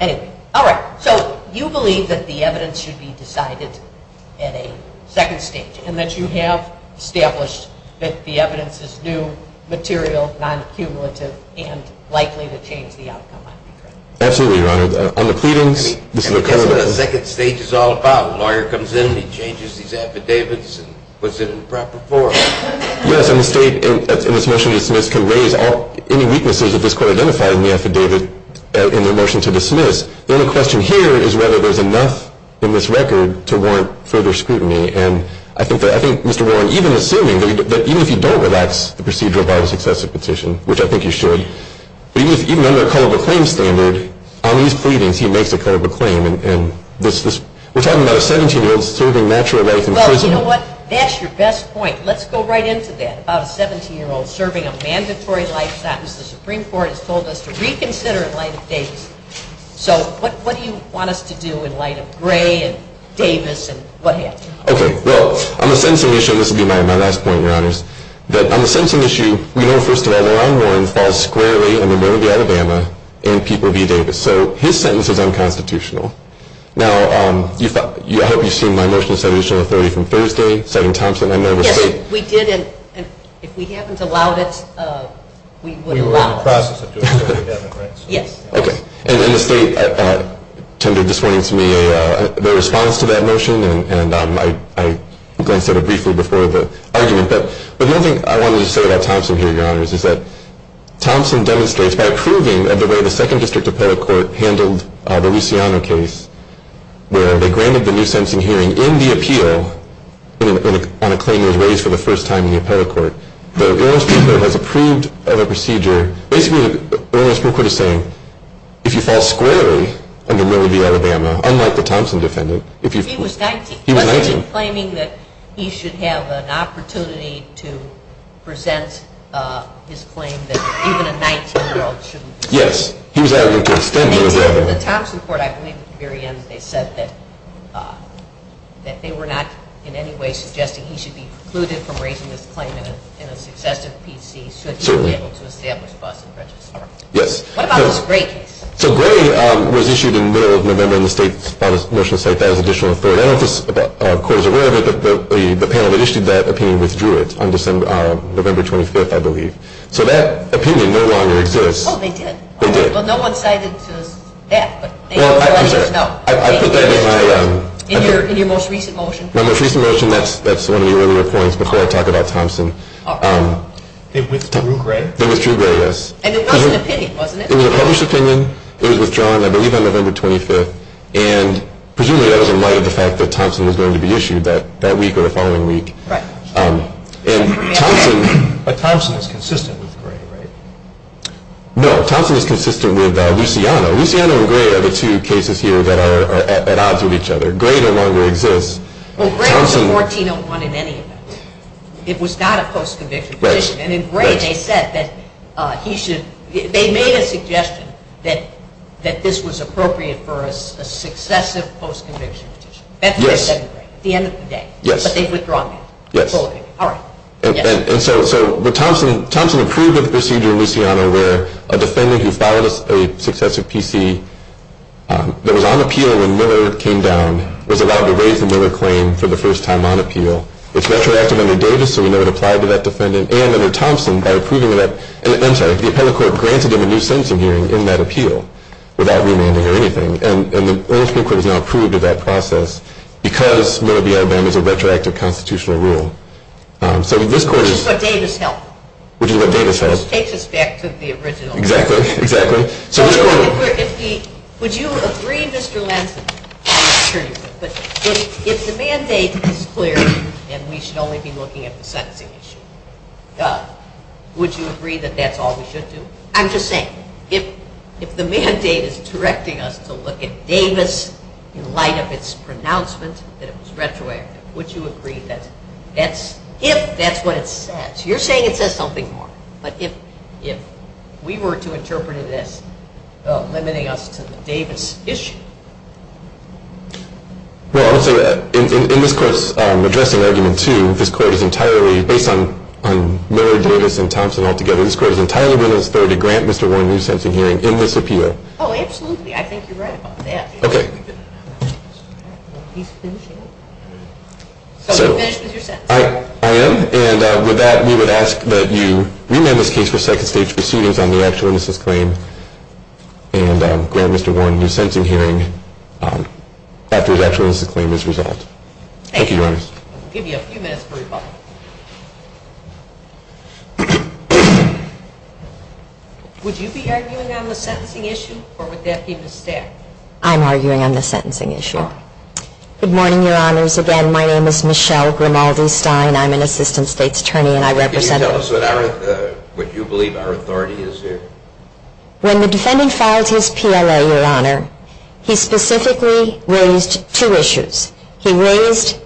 anyway. All right. So you believe that the evidence should be decided at a second stage and that you have established that the evidence is new, material, non-accumulative, and likely to change the outcome. Absolutely, Your Honor. On the pleadings? The second stage is all caught. The lawyer comes in and he changes these affidavits and puts it in the proper form. Yes, and the state, in this motion to dismiss, can raise any weaknesses of this court identifying the affidavit in the motion to dismiss. The only question here is whether there's enough in this record to warrant further scrutiny. And I think Mr. Warren, even assuming, but even if you don't relax the procedure of our successive petition, which I think you should, even under the color of a claim standard, on these pleadings he makes a color of a claim. And we're talking about a 17-year-old serving natural life in prison. Well, you know what? That's your best point. Let's go right into that, a 17-year-old serving a mandatory life sentence. The Supreme Court has told us to reconsider in light of Davis. So what do you want us to do in light of Gray and Davis and what have you? Okay. On the sentencing issue, we know, first of all, that Ron Warren falls squarely in the middle of the Alabama in people v. Davis. So his sentence is unconstitutional. Now, I hope you've seen my motion to set additional authority from Thursday, setting constant unknown to the state. Yes, we did. And if we haven't allowed it, we would allow it. We were in the process of doing that again, I think. Yes. Okay. And then the state tendered this morning to me the response to that motion, and I will go into it briefly before the argument. But there's one thing I want to say about Thompson here, Your Honors, is that Thompson demonstrates by approving of the way the 2nd District Appellate Court handled the Luciano case where they granted the new sentencing hearing in the appeal on a claim of wage for the first time in the Appellate Court. The U.S. Supreme Court has approved of a procedure. Basically, the U.S. Supreme Court is saying if you fall squarely in the middle of the Alabama, unlike the Thompson defendant. He was 19. He was 19. Was he claiming that he should have an opportunity to present his claim that even a 19-year-old shouldn't do that? Yes. He was having to defend himself. In the Thompson court, I believe at the very end they said that they were not in any way suggesting he should be excluded from raising his claim in a successive PC should he be able to establish a bus in Fresno, TX. Yes. What about Gray? So, Gray was issued in the middle of November in the motion to state that as additional authority. I don't know if this court is aware of it, but the panel that issued that opinion withdrew it on November 25th, I believe. So, that opinion no longer exists. Oh, they did? They did. Well, no one cited that. I put that in my... In your most recent motion? My most recent motion, yes. That's one of the earlier points before I talk about Thompson. It was through Gray? It was through Gray, yes. And it's not an opinion, wasn't it? It was a published opinion. It was withdrawn, I believe, on November 25th, and presumably that doesn't lie to the fact that Thompson is going to be issued that week or the following week. Right. And Thompson... But Thompson is consistent with Gray, right? No, Thompson is consistent with Luciano. Luciano and Gray are the two cases here that are at odds with each other. Gray no longer exists. Well, Gray was 14-01 in any of them. It was not a close conviction. Right. And in Gray they said that he should... They made a suggestion that this was appropriate for a successive post-conviction. Yes. That's what they said to Gray at the end of the day. Yes. But they've withdrawn that. Yes. All right. And so Thompson approved of the procedure, Luciano, where a defendant who filed a successive PC that was on appeal when Miller came down was allowed to raise the Miller claim for the first time on appeal. It's retroactive under Davis, so we know it applied to that defendant. And under Thompson, by approving of that... And I'm sorry. The Appellate Court granted him a new sentencing hearing in that appeal without remanding or anything. And the Orange Court has now approved of that process because Miller v. Alabama is a retroactive constitutional rule. So this court is... Which is what Davis held. Which is what Davis held. Which takes us back to the original... Exactly. Would you agree, Mr. Lansing, I'm not sure you would, but if the mandate is clear and we should only be looking at the sentencing, would you agree that that's all we should do? I'm just saying, if the mandate is directing us to look at Davis in light of its pronouncement that it was retroactive, would you agree that that's... If that's what it says. You're saying it says something more. But if we were to interpret it as limiting us to the Davis issue... Well, also, in this case, addressing Argument 2, this court is entirely, based on Miller, Davis, and Thompson altogether, this court is entirely willing to grant Mr. Warren a new sentencing hearing in this appeal. Oh, absolutely. I think you're right about that. Okay. So you're finished with your sentence? I am. And with that, we would ask that you rename this case for second stage proceedings on the actualness of the claim and grant Mr. Warren a new sentencing hearing after it actually is the claimant's result. Thank you, Your Honor. I'll give you a few minutes for your final. Would you be arguing on the sentencing issue, or would that be the staff? I'm arguing on the sentencing issue. Good morning, Your Honors. Once again, my name is Michelle Grimaldi Stein. I'm an Assistant State's Attorney, and I represent... Can you tell us what you believe our authority is here? When the defendant filed his PLA, Your Honor, he specifically raised two issues. He raised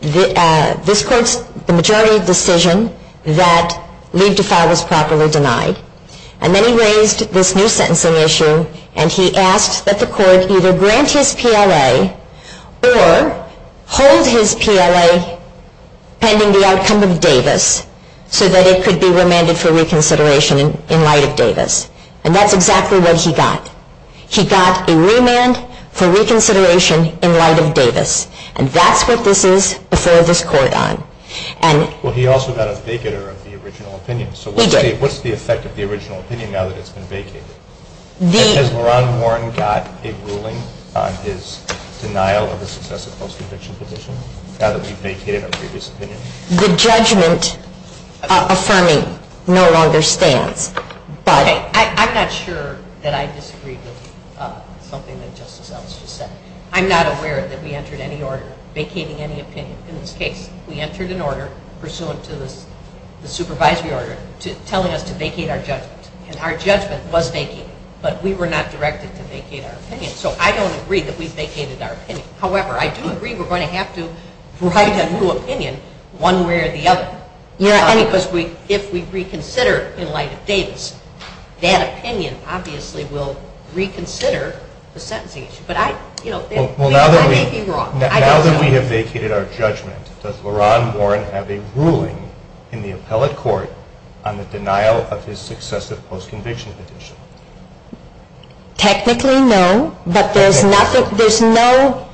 this court's majority decision that leave to file was properly denied. And then he raised this new sentencing issue, and he asked that the court either grant his PLA or hold his PLA pending the outcome of Davis so that it could be remanded for reconsideration in light of Davis. And that's exactly what he got. He got a remand for reconsideration in light of Davis, and that's what this is before this court on. Well, he also got a vigor of the original opinion. He did. What's the effect of the original opinion now that it's been vacated? Has LaRon Warren got a ruling on his denial of a successive post-conviction position now that he's vacated a Davis opinion? The judgment affirming no longer stands. I'm not sure that I disagree with something that Justice Ellis just said. I'm not aware that we entered any order vacating any opinion in this case. We entered an order pursuant to the supervisory order telling us to vacate our judgment. And our judgment was vacated, but we were not directed to vacate our opinion. So I don't agree that we vacated our opinion. However, I do agree we're going to have to provide a new opinion one way or the other. And because if we reconsider in light of Davis, that opinion obviously will reconsider the sentencing issue. But I, you know, I may be wrong. Now that we have vacated our judgment, does LaRon Warren have a ruling in the appellate court on the denial of his successive post-conviction position? Technically, no. But there's nothing, there's no,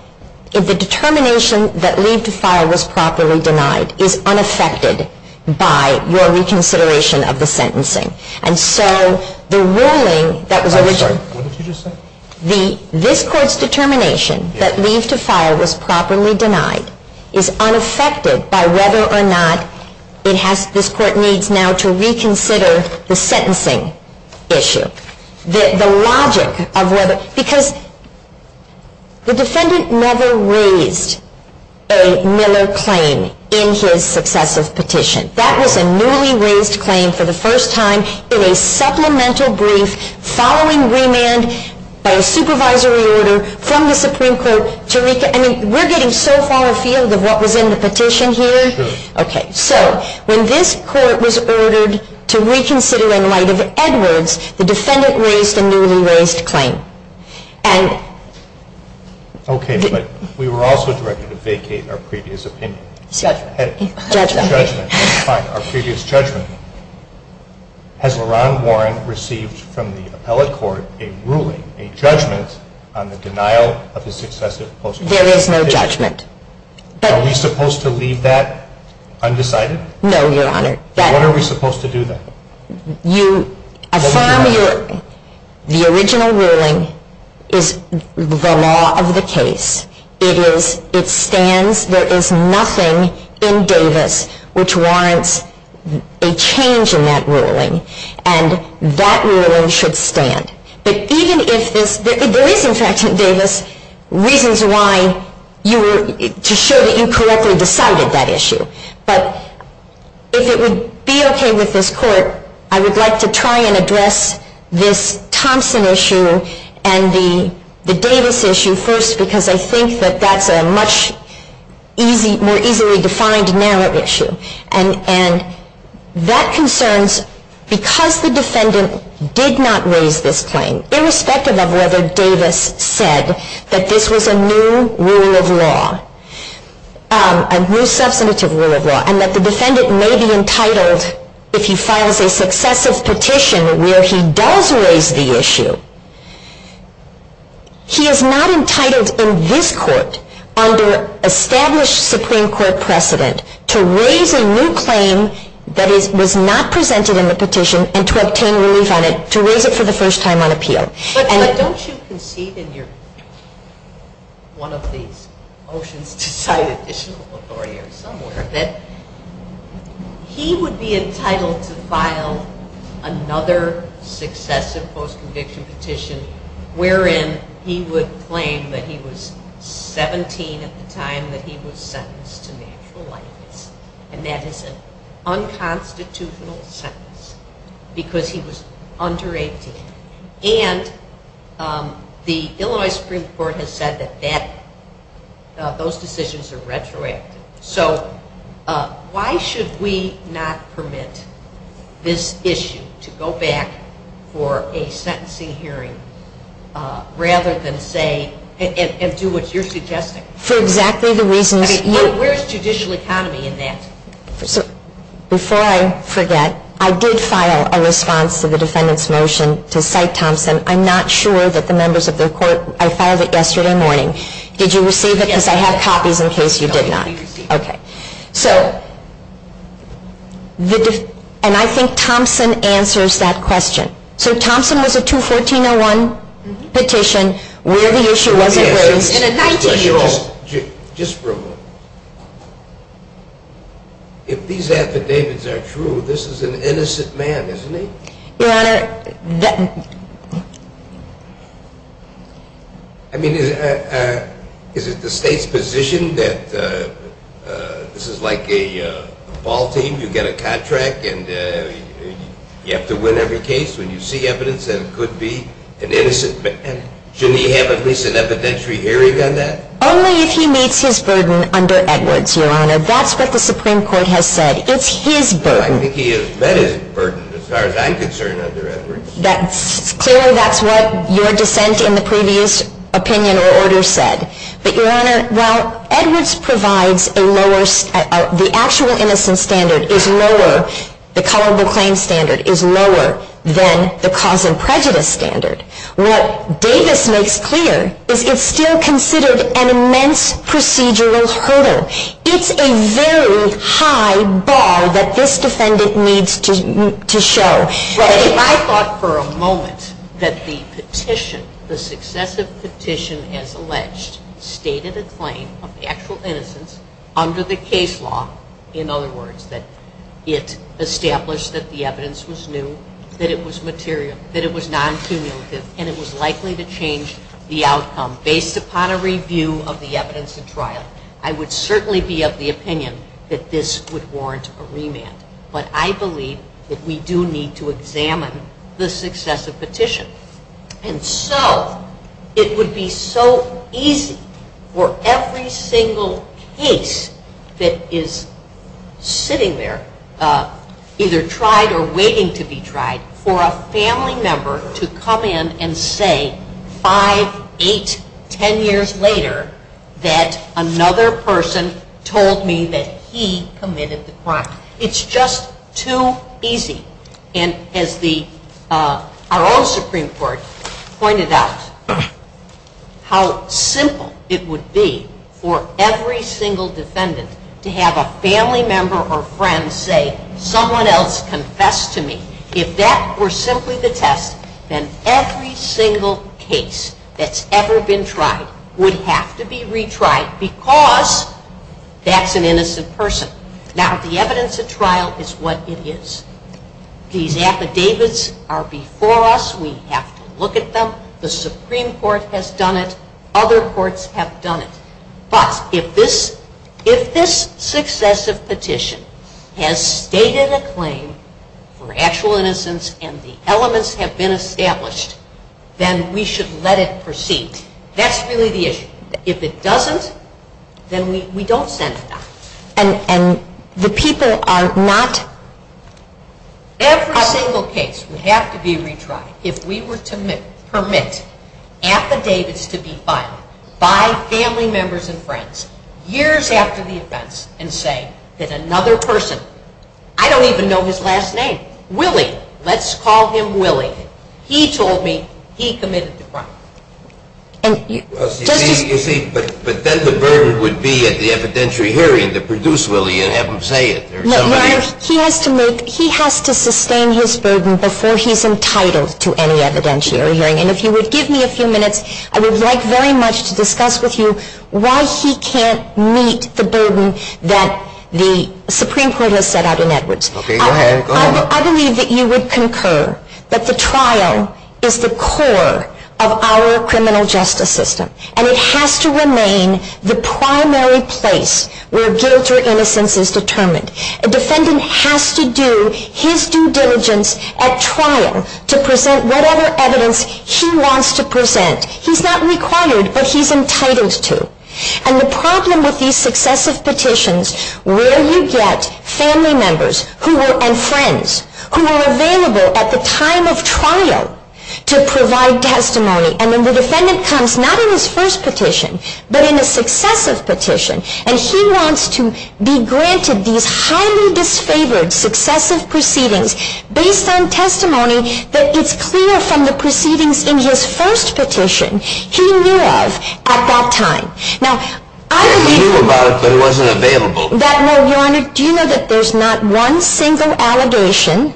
the determination that Lee's defile was properly denied is unaffected by your reconsideration of the sentencing. And so the ruling that was issued, this court's determination that Lee's defile was properly denied is unaffected by whether or not it has, this court needs now to reconsider the sentencing issue. The logic of whether, because the defendant never raised a Miller claim in his successive petition. That was a newly raised claim for the first time in a supplemental brief following remand by a supervisory order from the Supreme Court. And we're getting so far afield of what was in the petition here. Okay, so when this court was ordered to reconsider in light of Edwards, the defendant raised a newly raised claim. Okay, but we were also directed to vacate our previous opinion. Judgment. Our previous judgment. Has LaRon Warren received from the appellate court a ruling, a judgment, on the denial of his successive post-conviction? There is no judgment. Are we supposed to leave that undecided? No, Your Honor. Then what are we supposed to do then? The original ruling is the law of the case. It is, it stands. There is nothing in Davis which warrants a change in that ruling. And that ruling should stand. But even if, the reason, Sgt. Davis, reasons why you were, to show that you correctly decided that issue. But if it would be okay with this court, I would like to try and address this Thompson issue and the Davis issue first. Because I think that that's a much more easily defined narrow issue. And that concerns, because the defendant did not raise this claim, irrespective of whether Davis said that this was a new rule of law, a new substantive rule of law, and that the defendant may be entitled, if he files a successive petition where he does raise the issue, he is not entitled in this court, under established Supreme Court precedent, to raise a new claim that was not presented in the petition and to obtain relief on it, to raise it for the first time on appeal. But don't you concede in your, one of the motions to tie the issue of authority or somewhere, that he would be entitled to file another successive post-conviction petition wherein he would claim that he was 17 at the time that he was sentenced to natural life. And that is an unconstitutional sentence because he was under 18. And the Illinois Supreme Court has said that that, those decisions are retroactive. So, why should we not permit this issue to go back for a sentencing hearing, rather than say, and do what you're suggesting? For exactly the reason that... Where is judicial economy in that? Before I forget, I did file a response to the defendant's motion to cite Thompson. I'm not sure that the members of the court, I filed it yesterday morning. Did you receive it? Yes. Because I have copies in case you did not. Okay. So, and I think Thompson answers that question. So, Thompson was a 213-01 petition where the issue wasn't raised. Just for a moment. If these affidavits are true, this is an innocent man, isn't he? Well... I mean, is it the state's position that this is like a ball team? You get a contract and you have to win every case when you see evidence that it could be an innocent man? Shouldn't he have at least an evidentiary hearing on that? Only if he meets his burden under Edwards, Your Honor. That's what the Supreme Court has said. It's his burden. Well, I think he has met his burden, as far as I'm concerned, under Edwards. Clearly, that's what your defense in the previous opinion or order said. But, Your Honor, well, Edwards provides a lower... The actual innocent standard is lower. The colorable claim standard is lower than the cause and prejudice standard. What Davis makes clear is it's still considered an immense procedural hurdle. It's a very high bar that this defendant needs to show. Right. I thought for a moment that the petition, the successive petition as alleged, stated a claim of actual innocence under the case law. In other words, that it established that the evidence was new, that it was material, that it was non-cumulative, and it was likely to change the outcome based upon a review of the evidence at trial. I would certainly be of the opinion that this would warrant a remand. But I believe that we do need to examine the successive petition. And so, it would be so easy for every single case that is sitting there, either tried or waiting to be tried, for a family member to come in and say five, eight, ten years later that another person told me that he committed the crime. It's just too easy. And as our own Supreme Court pointed out, how simple it would be for every single defendant to have a family member or friend say someone else confessed to me. If that were simply the test, then every single case that's ever been tried would have to be retried because that's an innocent person. Now, the evidence at trial is what it is. These affidavits are before us. We have to look at them. The Supreme Court has done it. Other courts have done it. But if this successive petition has stated a claim for actual innocence and the elements have been established, then we should let it proceed. That's really the issue. If it doesn't, then we don't send it back. And the people are not... Every single case would have to be retried if we were to permit affidavits to be filed by family members and friends years after the offense and say that another person... I don't even know his last name. Willie. Let's call him Willie. He told me he committed the crime. But then the burden would be at the evidentiary hearing to produce Willie and have him say it. He has to sustain his burden before he's entitled to any evidentiary hearing. And if you would give me a few minutes, I would like very much to discuss with you why he can't meet the burden that the Supreme Court has set out in Edwards. I believe that you would concur that the trial is the core of our criminal justice system. And it has to remain the primary place where guilt or innocence is determined. A defendant has to do his due diligence at trial to present whatever evidence he wants to present. He's not required, but he's entitled to. And the problem with these successive petitions, where you get family members and friends who are available at the time of trial to provide testimony, and then the defendant comes not in his first petition, but in a successive petition, and he wants to be granted these highly disfavored successive proceedings based on testimony that is clear from the proceedings in his first petition, he knew of at that time. Now, I believe... He knew about it, but it wasn't available. No, Your Honor, do you know that there's not one single allegation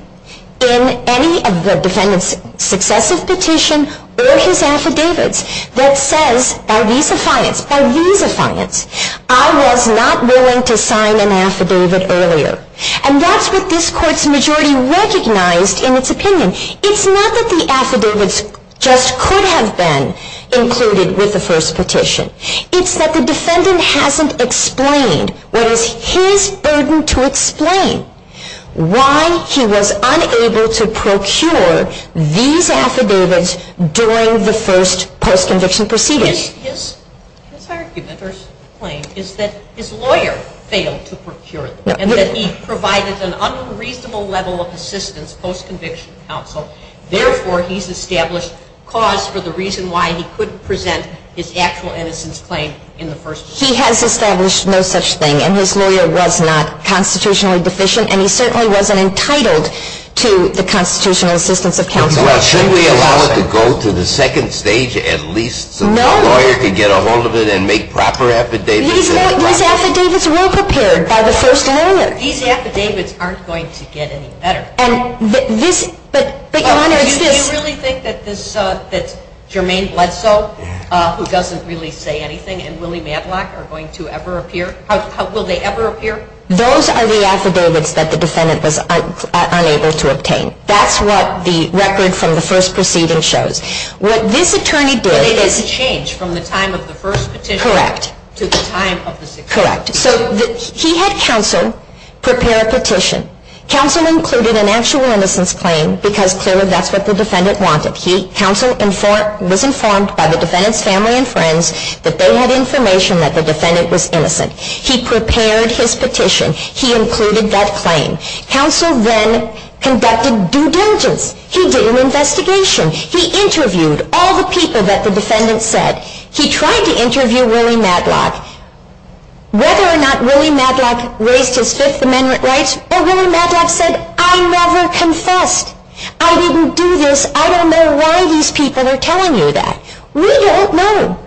in any of the defendants' successive petitions or his affidavits that says, by reason of science, by reason of science, I was not willing to sign an affidavit earlier. And that's what this Court's majority recognized in its opinion. It's not that the affidavits just could have been included with the first petition. It's that the defendant hasn't explained what is his burden to explain why he was unable to procure these affidavits during the first post-conviction proceedings. His argument or his claim is that his lawyer failed to procure them and that he provided an unreasonable level of assistance post-conviction counsel. Therefore, he's established cause for the reason why he couldn't present his actual innocence claim in the first instance. He has established no such thing, and his lawyer was not constitutionally deficient, and he certainly wasn't entitled to the constitutional assistance of counsel. Well, shouldn't we allow it to go to the second stage at least so that the lawyer can get a hold of it and make proper affidavits? These affidavits won't appear by the first amendment. These affidavits aren't going to get any better. Do you really think that Jermaine Bledsoe, who doesn't really say anything, and Willie Matlock are going to ever appear? Will they ever appear? Those are the affidavits that the defendant was unable to obtain. That's what the record from the first proceeding shows. What this attorney did... It's a change from the time of the first petition to the time of the second. Correct. He had counsel prepare a petition. Counsel included an actual innocence claim because clearly that's what the defendant wanted. Counsel was informed by the defendant's family and friends that they had information that the defendant was innocent. He prepared his petition. He included that claim. Counsel then conducted due diligence. He did an investigation. He interviewed all the people that the defendant said. He tried to interview Willie Matlock. Whether or not Willie Matlock raised his Fifth Amendment rights, or Willie Matlock said, I never confessed. I didn't do this. I don't know why these people are telling you that. We don't know.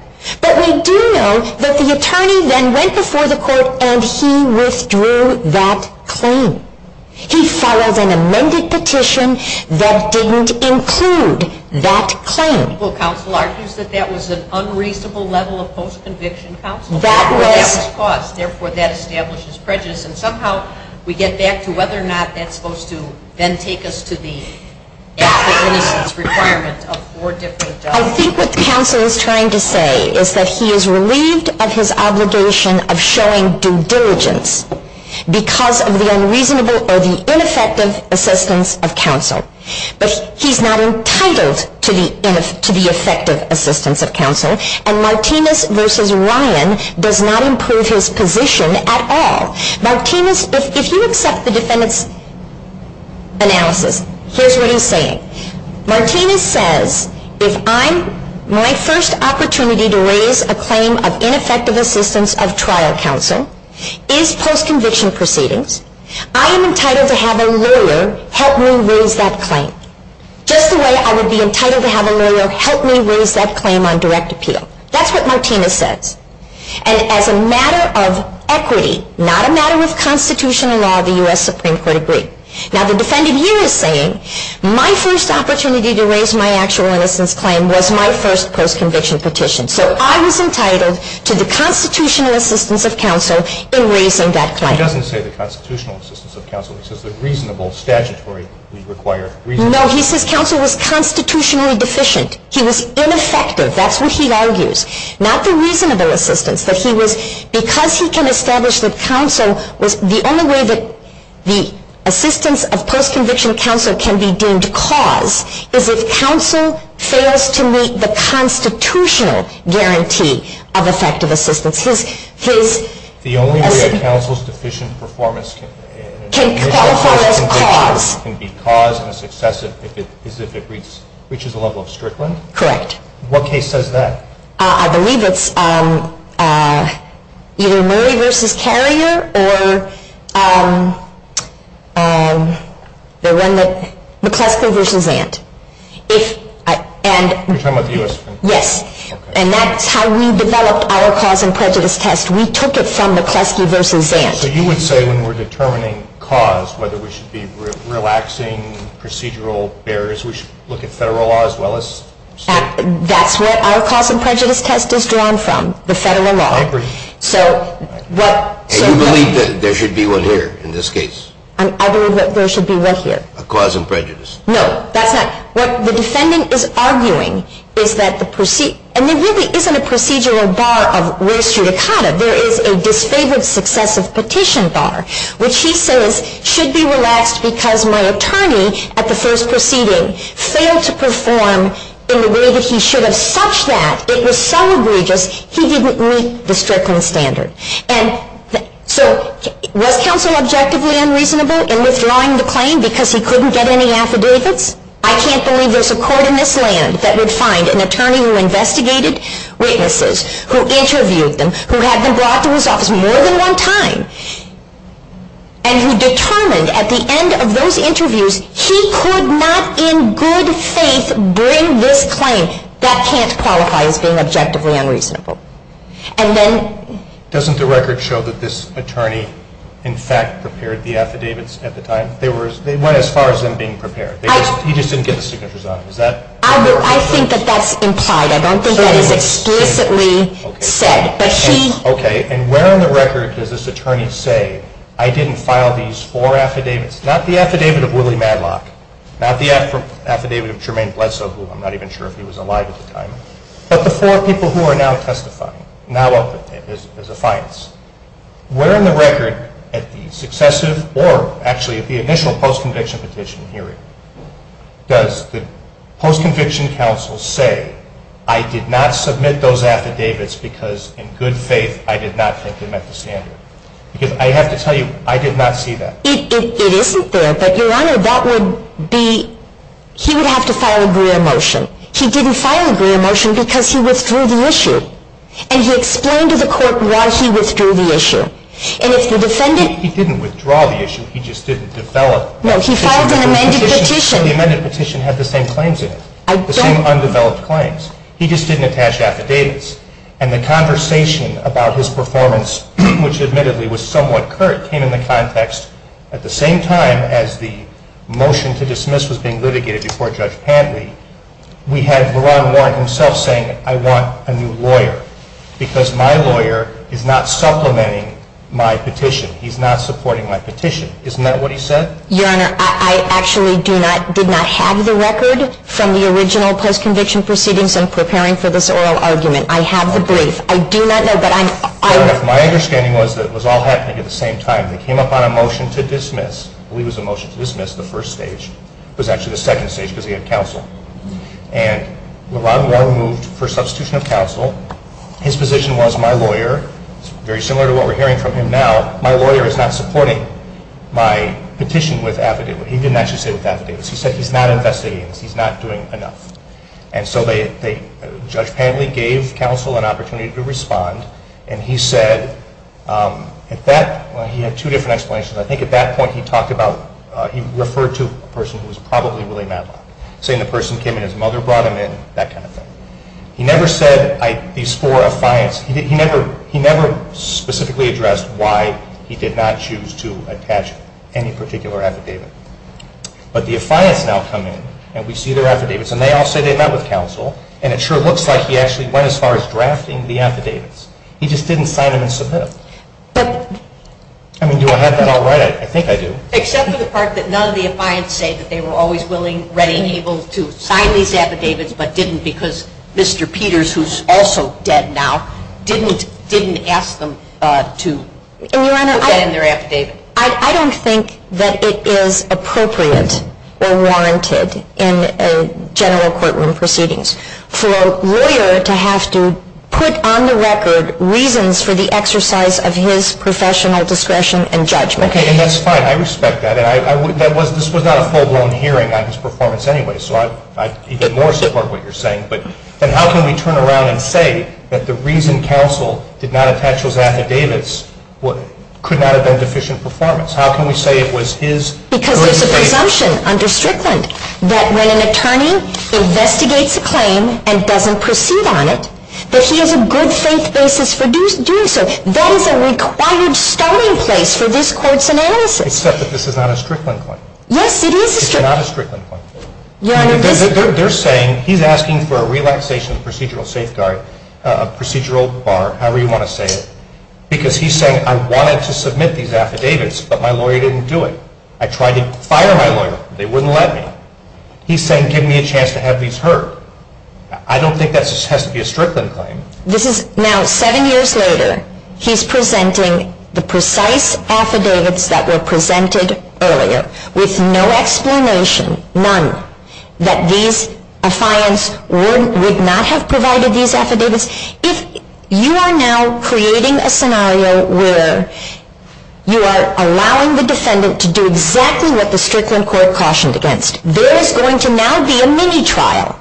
But we do know that the attorney then went before the court and he withdrew that claim. He filed an amended petition that didn't include that claim. Counsel argues that that was an unreasonable level of post-conviction counsel. That was. Therefore, that establishes prejudice, and somehow we get back to whether or not that's supposed to then take us to the actual innocence requirement of four different adults. I think what counsel is trying to say is that he is relieved of his obligation of showing due diligence because of the unreasonable or the ineffective assistance of counsel. But he's not entitled to the effective assistance of counsel, and Martinez v. Ryan does not impose his position at all. Martinez, if you accept the defendant's analysis, here's what he's saying. Martinez says, if my first opportunity to raise a claim of ineffective assistance of trial counsel is post-conviction proceedings, I am entitled to have a lawyer help me raise that claim. Just the way I would be entitled to have a lawyer help me raise that claim on direct appeal. That's what Martinez says. And as a matter of equity, not a matter of Constitutional law, the U.S. Supreme Court agreed. Now the defendant here is saying, my first opportunity to raise my actual innocence claim was my first post-conviction petition. So I was entitled to the Constitutional assistance of counsel in raising that claim. He doesn't say the Constitutional assistance of counsel. It says the reasonable statutory required reasonable. No, he says counsel was constitutionally deficient. He was ineffective. That's what he argues. Not the reasonable assistance, but because he can establish with counsel the only way that the assistance of post-conviction counsel can be deemed cause is if counsel fails to meet the Constitutional guarantee of effective assistance. The only way counsel's deficient performance can be caused and is excessive is if it reaches a level of strickling? Correct. What case says that? I believe it's either Murray v. Carrier or Nepresco v. Vant. You're talking about the U.S. Supreme Court? Yes. And that's how we developed our cause and prejudice test. We took it from Nepresco v. Vant. So you would say when we're determining cause, whether we should be relaxing procedural barriers, we should look at federal law as well as state? That's where our cause and prejudice test is drawn from, the federal law. I agree. And you believe that there should be one here in this case? I believe that there should be one here. A cause and prejudice. No, that's not. What the defendant is arguing is that the procedure and there really isn't a procedural bar on where should it happen. There is a disfavored successive petition bar, which he says should be relaxed because my attorney at the first proceeding failed to perform in the way that he should have such that it was so egregious he didn't meet the circumstances. And so was counsel objectively unreasonable in withdrawing the claim because he couldn't get any antidotes? I can't believe there's a court in this land that would find an attorney who investigated witnesses, who interviewed them, who had them brought to his office more than one time, and who determined at the end of those interviews he could not in good faith bring this claim, that can't qualify as being objectively unreasonable. Doesn't the record show that this attorney in fact prepared the affidavits at the time? They weren't as far as them being prepared. You just didn't get the signatures on them. I think that that's implied. I don't think that is explicitly said. Okay, and where in the record does this attorney say, I didn't file these four affidavits? Not the affidavit of Willie Madlock, not the affidavit of Jermaine Bledsoe, who I'm not even sure if he was alive at the time, but the four people who are now testifying, now open as a finance. Where in the record at the successive, or actually at the initial post-conviction petition hearing, does the post-conviction counsel say, I did not submit those affidavits because in good faith I did not put them at the standard? I have to tell you, I did not see that. It isn't there, but your honor, that would be, he would have to file a gray motion. He didn't file a gray motion because he withdrew the issue. And he explained to the court why he withdrew the issue. He didn't withdraw the issue, he just didn't develop that. No, he filed an amended petition. The amended petition had the same claims in it. The same undeveloped claims. He just didn't attach affidavits. And the conversation about his performance, which admittedly was somewhat curt, came into context at the same time as the motion to dismiss was being litigated before Judge Hadley. We had the lawyer himself saying, I want a new lawyer. Because my lawyer is not supplementing my petition. He's not supporting my petition. Isn't that what he said? Your honor, I actually did not have the record from the original post-conviction proceedings in preparing for this oral argument. I have the brief. I do not know, but I'm My understanding was that it was all happening at the same time. It came upon a motion to dismiss. I believe it was a motion to dismiss, the first stage. It was actually the second stage because he had counsel. And LeVar Moore moved for substitution of counsel. His position was, my lawyer, very similar to what we're hearing from him now, my lawyer is not supporting my petition with affidavits. He didn't actually say with affidavits. He said he's not investigating this. He's not doing enough. And so Judge Hadley gave counsel an opportunity to respond. And he said, he had two different explanations. I think at that point he referred to a person who was probably really mad at him, saying the person came and his mother brought him in, that kind of thing. He never said the score of clients. He never specifically addressed why he did not choose to attach any particular affidavit. But the clients now come in, and we see their affidavits, and they all say they met with counsel, and it sure looks like he actually went as far as drafting the affidavits. He just didn't sign them and submit them. I mean, do I have that all right? I think I do. Except for the part that none of the clients say that they were always willing, ready, and able to sign these affidavits but didn't because Mr. Peters, who's also dead now, didn't ask them to put that in their affidavit. I don't think that it is appropriate or warranted in a general courtroom proceedings for a lawyer to have to put on the record reasons for the exercise of his professional discretion and judgment. Okay, and that's fine. I respect that. This was not a full-blown hearing on his performance anyway, so I even more support what you're saying. But how can we turn around and say that the reason counsel did not attach those affidavits could not have been an efficient performance? How can we say it was his? Because it's a presumption under Strickland that when an attorney investigates a claim and doesn't proceed on it, that he has a good safe basis for doing so. That is a required starting place for this court's analysis. It's such that this is not a Strickland claim. Yes, it is a Strickland claim. It's not a Strickland claim. They're saying he's asking for a relaxation of procedural safeguard, a procedural bar, however you want to say it, because he's saying I wanted to submit these affidavits but my lawyer didn't do it. I tried to fire my lawyer. They wouldn't let me. He's saying give me a chance to have these heard. I don't think that has to be a Strickland claim. This is now seven years later. He's presenting the precise affidavits that were presented earlier with no explanation, none, that these assignments would not have provided these affidavits. You are now creating a scenario where you are allowing the defendant to do exactly what the Strickland court cautioned against. There is going to now be a mini-trial.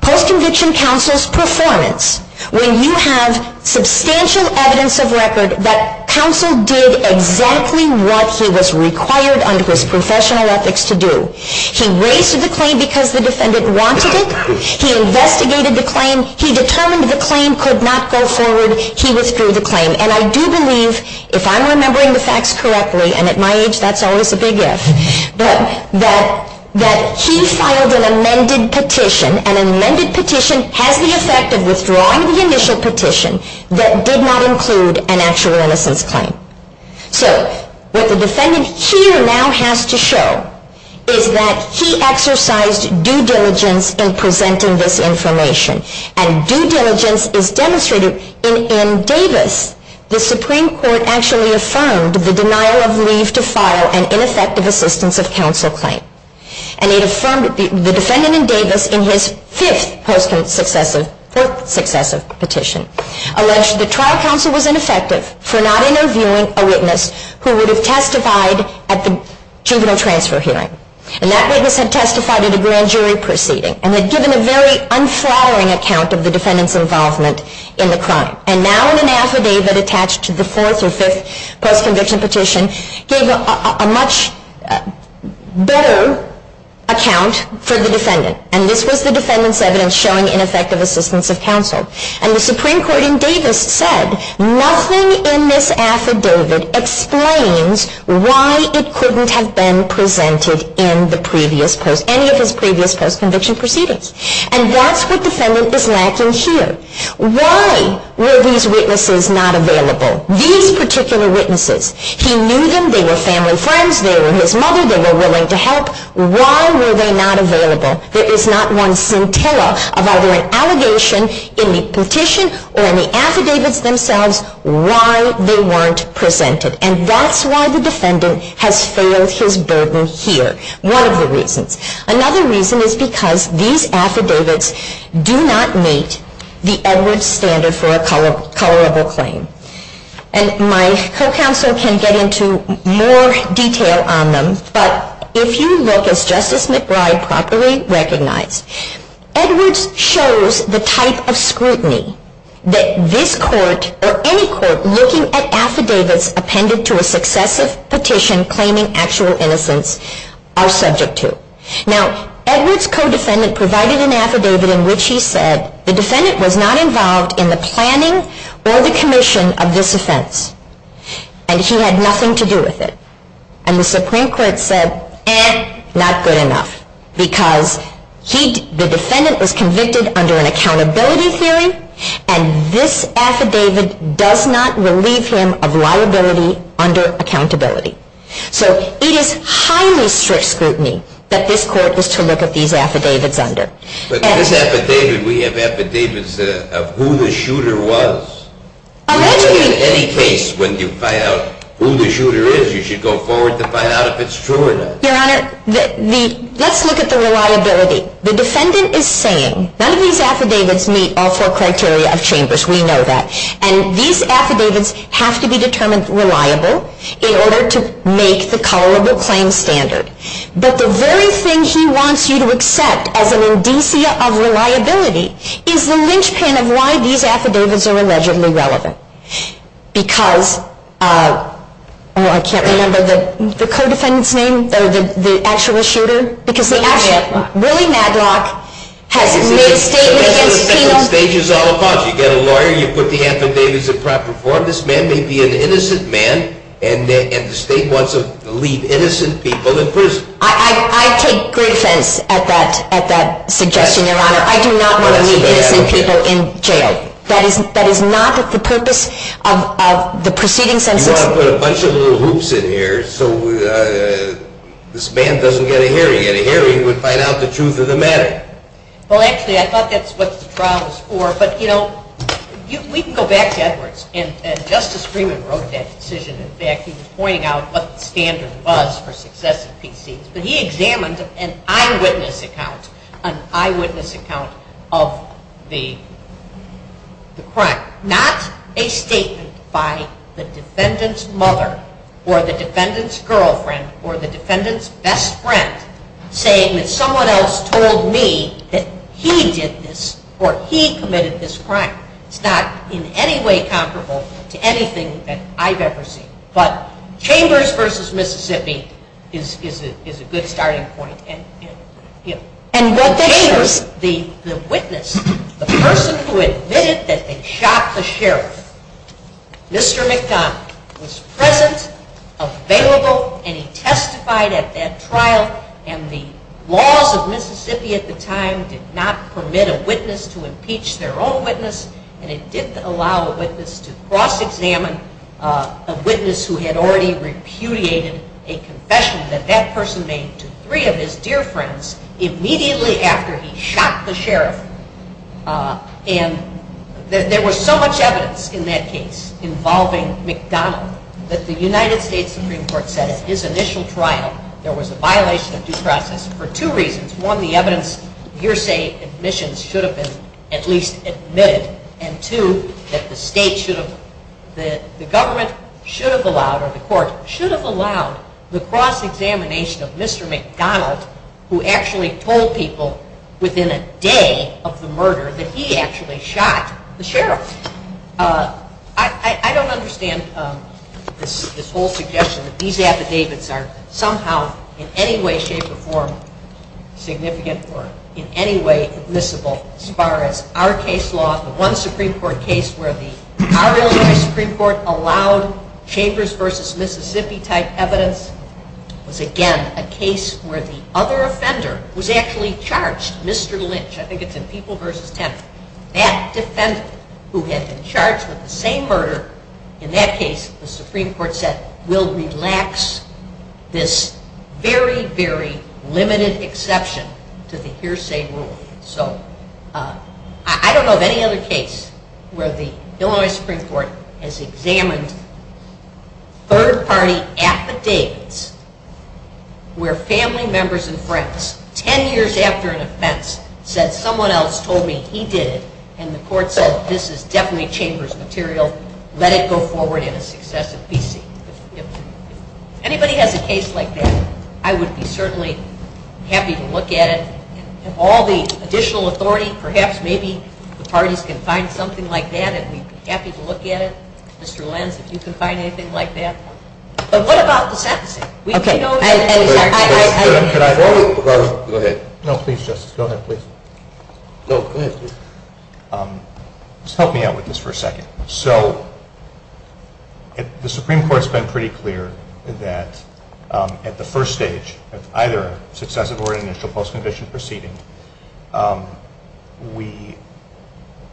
Post-conviction counsel's performance, when you have substantial evidence of record that counsel did exactly what he was required under his professional ethics to do. He raised the claim because the defendant wanted it. He investigated the claim. He determined the claim could not go forward. He withdrew the claim. And I do believe, if I'm remembering the facts correctly, and at my age that's always a big yes, that he filed an amended petition. An amended petition has the effect of withdrawing the initial petition that did not include an actual innocence claim. So what the defendant here now has to show is that he exercised due diligence in presenting this information. And due diligence is demonstrated in Davis. The Supreme Court actually affirmed the denial of leave to file an ineffective assistance of counsel claim. And it affirmed the defendant in Davis in his sixth post-conviction petition alleged that trial counsel was ineffective for not interviewing a witness who would have testified at the juvenile transfer hearing. And that witness had testified at a grand jury proceeding and had given a very unsatisfying account of the defendant's involvement in the crime. And now in an affidavit attached to the fourth and fifth post-conviction petition, there's a much better account for the defendant. And this was the defendant's evidence showing ineffective assistance of counsel. And the Supreme Court in Davis said, nothing in this affidavit explains why it couldn't have been presented in any of his previous post-conviction proceedings. And that's what the defendant is lacking here. Why were these witnesses not available? These particular witnesses, he knew them, they were family friends, they were his mother, they were willing to help. Why were they not available? There is not one scintilla of either an allegation in the petition or in the affidavits themselves why they weren't presented. And that's why the defendant has failed his burden here. One of the reasons. Another reason is because these affidavits do not meet the Edwards standard for a tolerable claim. And my co-counsel can get into more detail on them, but if you look at Justice McBride properly recognized, Edwards shows the type of scrutiny that this court or any court looking at affidavits appended to a successive petition claiming actual innocence are subject to. Now, Edwards' co-defendant provided an affidavit in which he said, the defendant was not involved in the planning or the commission of this offense. And he had nothing to do with it. And the Supreme Court said, eh, not good enough. Because the defendant was convicted under an accountability hearing, and this affidavit does not relieve him of liability under accountability. So it is highly strict scrutiny that this court is to look at these affidavits under. But this affidavit, we have affidavits of who the shooter was. In any case, when you find out who the shooter is, you should go forward to find out if it's true or not. Your Honor, let's look at the reliability. The defendant is saying, none of these affidavits meet all four criteria of changes. We know that. And these affidavits have to be determined reliable in order to make the culpable claim standard. But the very thing he wants you to accept as an indicia of reliability is the linchpin of why these affidavits are allegedly relevant. Because, oh, I can't remember the co-defendant's name or the actual shooter. Willie Madlock has made statements against people. You've got a lawyer, you put the affidavits in proper form. This man may be an innocent man, and the state wants to leave innocent people in prison. I take great sense at that suggestion, Your Honor. I do not want to leave innocent people in jail. That is not what the purpose of the proceedings are. You want to put a bunch of little hoops in here so this man doesn't get a hearing. At a hearing, he would find out the truth of the matter. Well, actually, I thought that's what the trial was for. But, you know, we can go back to Edwards. And Justice Freeman wrote that decision. In fact, he was pointing out what the standard was for successive proceedings. But he examined an eyewitness account of the crime, not a statement by the defendant's mother or the defendant's girlfriend or the defendant's best friend saying that someone else told me that he did this or he committed this crime. It's not in any way comparable to anything that I've ever seen. But Chambers v. Mississippi is a good starting point. And what Chambers, the witness, the person who admitted that they shot the sheriff, Mr. McDonald, was present, available, and he testified at that trial. And the law of Mississippi at the time did not permit a witness to impeach their own witness, and it didn't allow a witness to cross-examine a witness who had already repudiated a confession that that person made to three of his dear friends immediately after he shot the sheriff. And there was so much evidence in that case involving McDonald that the United States Supreme Court said at his initial trial there was a violation of due process for two reasons. One, the evidence hearsay admissions should have been at least admitted. And two, that the government should have allowed or the courts should have allowed the cross-examination of Mr. McDonald who actually told people within a day of the murder that he actually shot the sheriff. I don't understand this whole suggestion that these affidavits are somehow in any way, shape, or form significant or in any way admissible as far as our case law. The one Supreme Court case where our Supreme Court allowed Chambers v. Mississippi type evidence was, again, a case where the other offender was actually charged, Mr. Lynch. I think it's in People v. Temple. That defendant who had been charged with the same murder in that case, the Supreme Court said, will relax this very, very limited exception to the hearsay rule. So, I don't know of any other case where the Illinois Supreme Court has examined third-party affidavits where family members and friends, ten years after an offense, said someone else told me he did it and the court said, this is definitely Chambers material. Let it go forward in the success of D.C. If anybody has a case like that, I would be certainly happy to look at it. If all the additional authority, perhaps maybe the parties can find something like that and we'd be happy to look at it. Mr. Lynch, if you can find anything like that. So, what about the sentencing? Should I go? Go ahead. No, please, Justice. Go ahead, please. Go ahead, please. Just help me out with this for a second. So, the Supreme Court has been pretty clear that at the first stage of either successive or initial post-conviction proceeding, we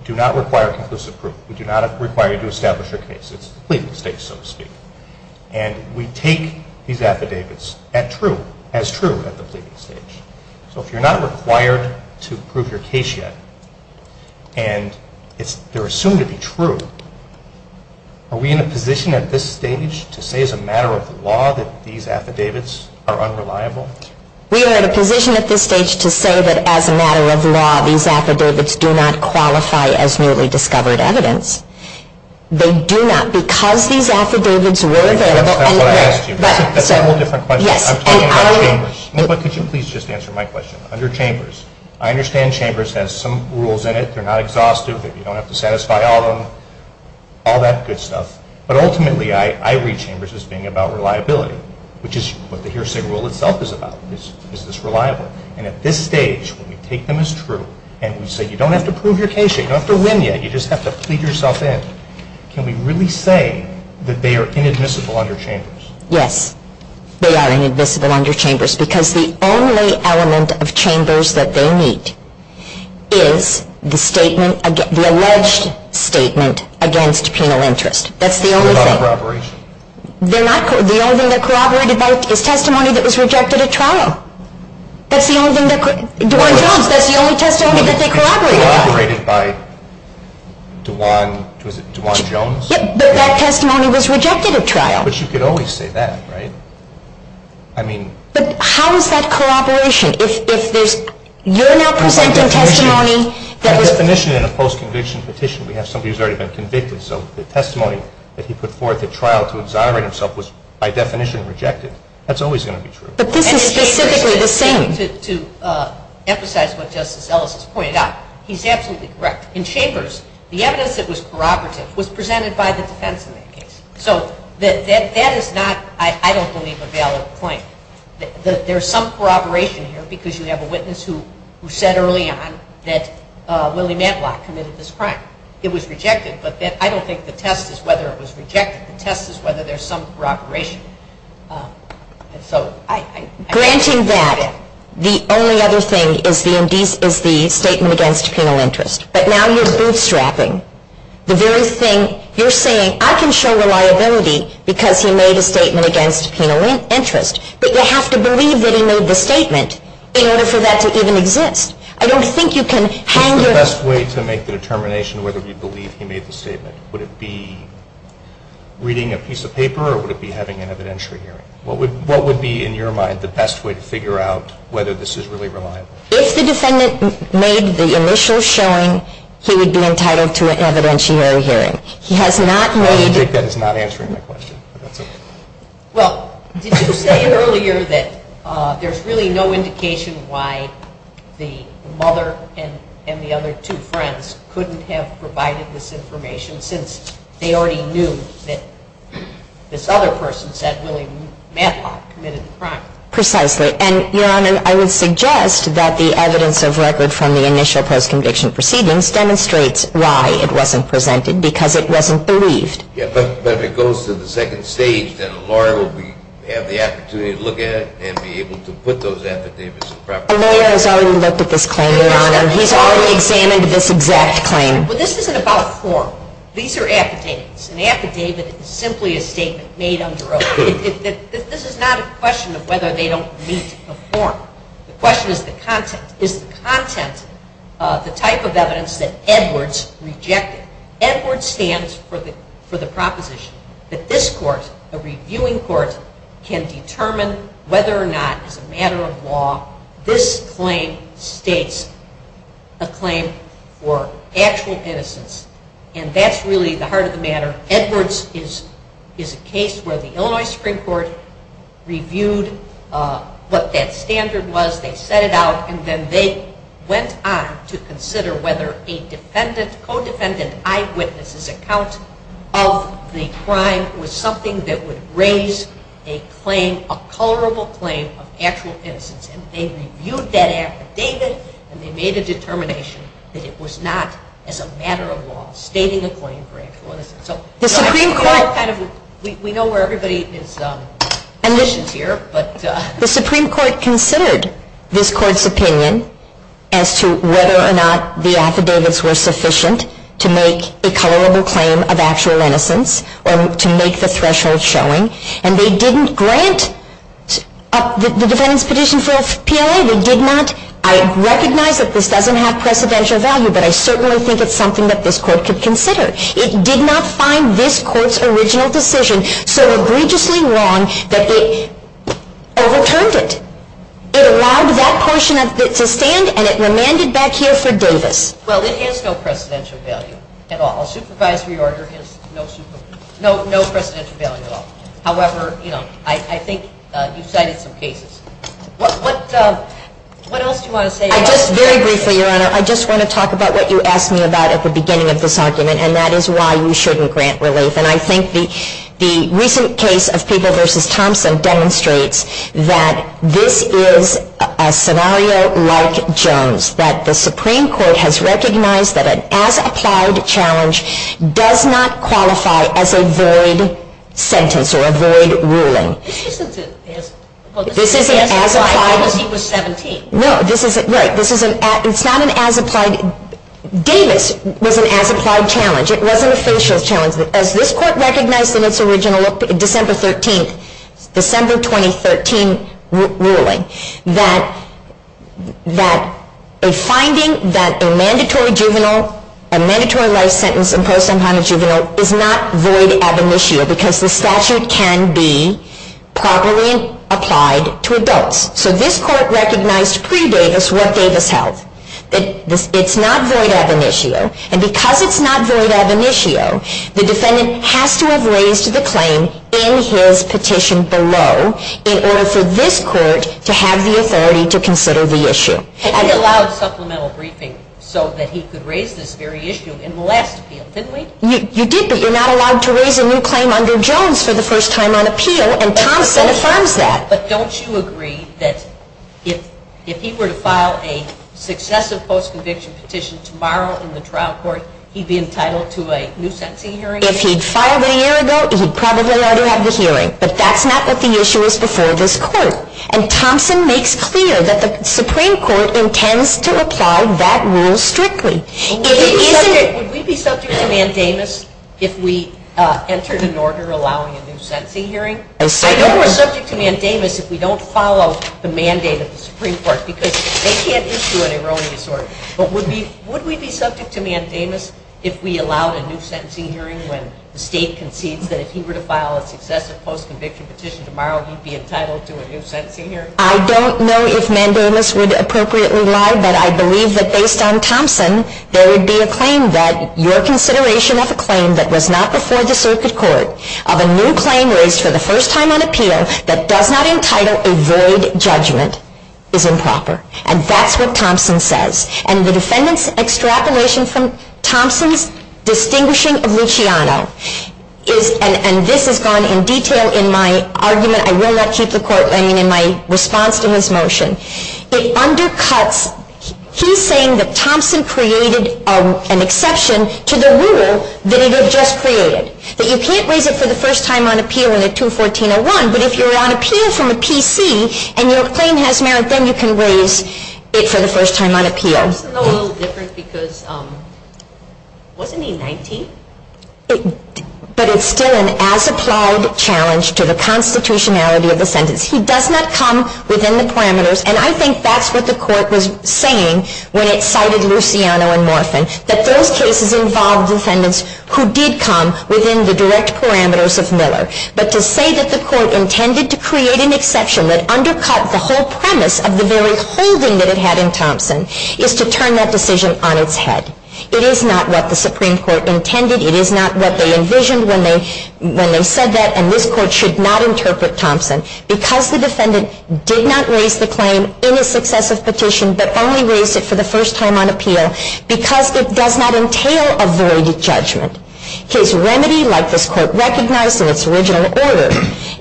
do not require conclusive proof. We do not require you to establish your case. It's a complete mistake, so to speak. And we take these affidavits as true at the pleading stage. So, if you're not required to prove your case yet and they're assumed to be true, are we in a position at this stage to say as a matter of law that these affidavits are unreliable? We are in a position at this stage to say that as a matter of law, these affidavits do not qualify as newly discovered evidence. They do not. Because these affidavits were there. That's a whole different question. I'm talking about Chambers. Could you please just answer my question? Under Chambers, I understand Chambers has some rules in it. They're not exhaustive. You don't have to satisfy all of them. All that good stuff. But ultimately, I read Chambers as being about reliability, which is what the Hearsay Rule itself is about. Is this reliable? And at this stage, when we take them as true and we say you don't have to prove your case yet, you don't have to win yet, you just have to feed yourself in, can we really say that they are inadmissible under Chambers? Yes, they are inadmissible under Chambers because the only element of Chambers that they meet is the alleged statement against penal interest. They're not corroborated. The only thing they're corroborated by is testimony that was rejected at trial. That's the only testimony that they corroborate. They're corroborated by DuJuan Jones? That testimony was rejected at trial. But you could always say that, right? But how is that corroboration? If you're now presenting testimony that was... By definition, in a post-conviction petition, we have somebody who's already been convicted, so the testimony that he put forth at trial to exonerate himself was, by definition, rejected. That's always going to be true. And to emphasize what Justice Ellis has pointed out, he's absolutely correct. In Chambers, the evidence that was corroborated was presented by the defense in that case. So that is not, I don't believe, a valid point. There's some corroboration here because you have a witness who said early on that Willie Matlock committed this crime. It was rejected, but I don't think the test is whether it was rejected. The test is whether there's some corroboration. Granting that, the only other thing is the statement against penal interest. But now you're bootstrapping. You're saying, I can show reliability because he made a statement against penal interest, but you have to believe that he made the statement in order for that to even exist. I don't think you can hang your... What's the best way to make the determination whether you believe he made the statement? Would it be reading a piece of paper or would it be having an evidentiary hearing? What would be, in your mind, the best way to figure out whether this is really reliable? If the defendant made the initial showing, he would be entitled to an evidentiary hearing. He has not made... I don't think that is not answering my question. Well, you just stated earlier that there's really no indication why the mother and the other two friends couldn't have provided this information since they already knew that this other person said Willie Madhawk committed the crime. Precisely. And, Your Honor, I would suggest that the evidence of record from the initial post-conviction proceedings demonstrates why it wasn't presented, because it wasn't believed. Yes, but when it goes to the second stage, then Laura will have the opportunity to look at it And Laura has already looked at this claim, Your Honor. She's already examined this exact claim. But this isn't about a form. These are affidavits. An affidavit is simply a statement made under oath. This is not a question of whether they don't meet a form. The question is the content. Is the content the type of evidence that Edwards rejected? Edwards stands for the proposition that this court, a reviewing court, can determine whether or not, as a matter of law, this claim states a claim for actual innocence. And that's really the heart of the matter. Edwards is a case where the Illinois Supreme Court reviewed what that standard was, they set it out, and then they went on to consider whether a defendant, the defendant's co-defendant eyewitness's account of the crime was something that would raise a claim, a colorable claim of actual innocence. And they reviewed that affidavit, and they made a determination that it was not, as a matter of law, stating a claim for actual innocence. The Supreme Court, and we know where everybody is, and this is here, but the Supreme Court considered this court's opinion as to whether or not the affidavits were sufficient to make a colorable claim of actual innocence, or to make the threshold showing, and they didn't grant the defendant's petition for a PLA. They did not, I recognize that this doesn't have precedential value, but I certainly think it's something that this court could consider. It did not find this court's original position so egregiously wrong that it overturned it. It allowed that question to stand, and it remanded back here for doses. Well, it has no precedential value at all. A supervisory order has no precedential value at all. However, you know, I think you cited some cases. What else do you want to say about this? Very briefly, Your Honor, I just want to talk about what you asked me about at the beginning of this argument, and that is why we shouldn't grant release. And I think the recent case of Peeble v. Thompson demonstrates that this is a scenario like Jones, that the Supreme Court has recognized that an as-applied challenge does not qualify as a void sentence or a void ruling. This isn't an as-applied challenge. This isn't an as-applied challenge. No, this isn't. Davis was an as-applied challenge. It wasn't a social challenge. As this court recognized in its original December 13th, December 2013 ruling, that a finding that a mandatory life sentence imposed on a juvenile is not void ever this year So this court recognized pre-Davis what Davis held. It's not void ever this year. And because it's not void ever this year, the defendant has to have raised the claim in his petition below in order for this court to have the authority to consider the issue. And he allowed a supplemental briefing so that he could raise this very issue in the last appeal, didn't he? You did, but you're not allowed to raise a new claim under Jones for the first time on appeal, and Thompson affirms that. But don't you agree that if he were to file a successive post-conviction petition tomorrow in the trial court, he'd be entitled to a new sentencing hearing? If he'd filed a year ago, he'd probably already have this hearing. But that's not what the issue is before this court. And Thompson makes clear that the Supreme Court intends to apply that rule strictly. Would we be subject to mandamus if we entered an order allowing a new sentencing hearing? I know we're subject to mandamus if we don't follow the mandate of the Supreme Court, because they can't issue an erroneous order. But would we be subject to mandamus if we allowed a new sentencing hearing when the state concedes that if he were to file a successive post-conviction petition tomorrow, he'd be entitled to a new sentencing hearing? I don't know if mandamus would appropriately allow, but I believe that based on Thompson, there would be a claim that your consideration of a claim that was not before the circuit court of a new claim reached for the first time on appeal that does not entitle a void judgment is improper. And that's what Thompson says. And the defendant's extrapolation from Thompson's distinguishing of Luciano is, and this has gone in detail in my argument, I will not keep the court running, in my response to his motion. It undercuts, he's saying that Thompson created an exception to the rule that he had just created. That you can't raise it for the first time on appeal in a 214-01, but if you're on appeal from a PC and your claim has merit, then you can raise it for the first time on appeal. That's a little different, because wasn't he 19? But it's still an as-applied challenge to the constitutionality of the sentence. He does not come within the parameters, and I think that's what the court was saying when it cited Luciano and Morphin, that those cases involve defendants who did come within the direct parameters of Miller. But to say that the court intended to create an exception that undercut the whole premise of the very closing that it had in Thompson is to turn that decision on its head. It is not what the Supreme Court intended. It is not what they envisioned when they said that, and this court should not interpret Thompson. Because the defendant did not raise the claim in a successive petition, but only raised it for the first time on appeal because it does not entail a verdict judgment. Case remedy, like this court recognized in its original order,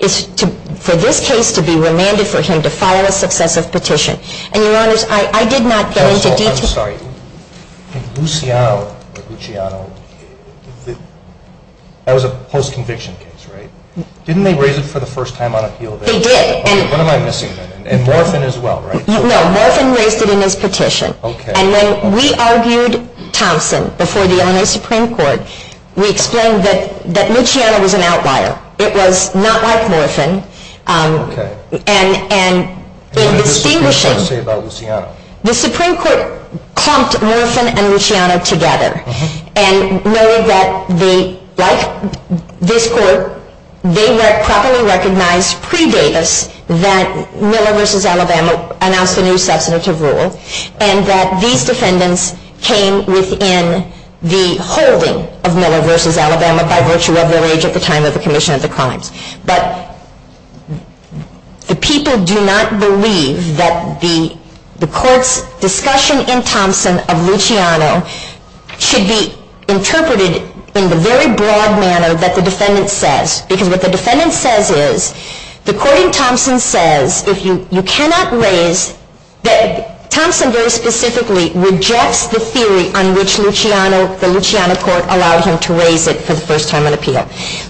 is for this case to be remanded for him to file a successive petition. And, Your Honors, I did not go into detail. I'm sorry. Luciano, Luciano, that was a post-conviction case, right? Didn't they raise it for the first time on appeal? They did. What am I missing then? And Morphin as well, right? No, Morphin raised it in his petition. Okay. And when we argued Thompson before the Illinois Supreme Court, we explained that Luciano was an outlier. It was not like Morphin. Okay. What did the Supreme Court say about Luciano? The Supreme Court clumped Morphin and Luciano together and noted that, like this court, they were properly recognized pre-datus that Miller v. Alabama announced a new substantive rule and that these defendants came within the holding of Miller v. Alabama by virtue of their age at the time of the commission of the crime. But the people do not believe that the court's discussion in Thompson of Luciano should be interpreted in the very broad manner that the defendant says. Because what the defendant says is, the court in Thompson says, if you cannot raise, Thompson very specifically rejects the theory on which Luciano, the Luciano court allowed him to raise it for the first time on appeal.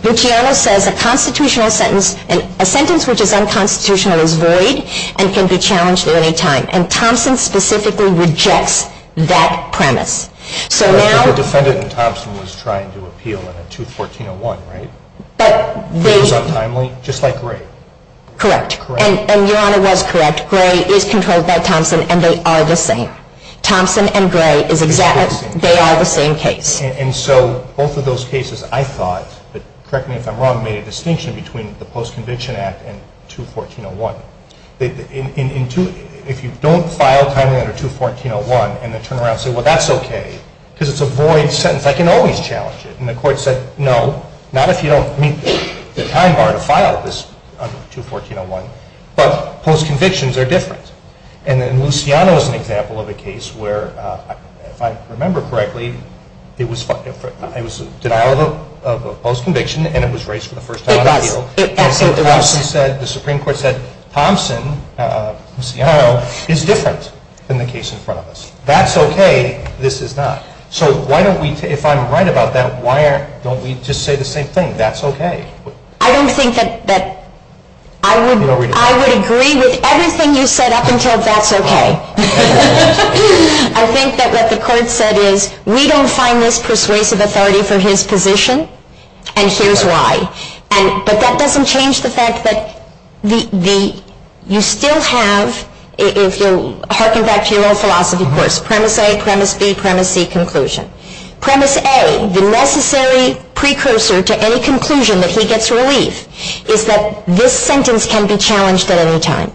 Luciano says a constitutional sentence, a sentence which is unconstitutional is void and can be challenged at any time. And Thompson specifically rejects that premise. But the defendant in Thompson was trying to appeal in a 214-01, right? Just like Gray. Correct. And Your Honor was correct. Gray is controlled by Thompson and they are the same. Thompson and Gray are the same case. And so both of those cases, I thought, correct me if I'm wrong, made a distinction between the post-convention act and 214-01. If you don't file a comment under 214-01 and then turn around and say, well, that's okay because it's a void sentence, I can always challenge it. And the court said, no, not if you don't, I mean, if I'm going to file this under 214-01, but post-convictions are different. And then Luciano is an example of a case where, if I remember correctly, it was a denial of a post-conviction and it was raised for the first time on appeal. And the Supreme Court said, Thompson, Luciano, is different than the case in front of us. That's okay. This is not. So why don't we, if I'm right about that, why don't we just say the same thing? That's okay. I don't think that, I would agree with everything you said up until that's okay. I think that what the court said is, we don't find this persuasive authority for his position and here's why. But that doesn't change the fact that you still have, if you're harking back to your own philosophy course, premise A, premise B, premise C conclusion. Premise A, the necessary precursor to any conclusion that he gets released, is that this sentence can be challenged at any time.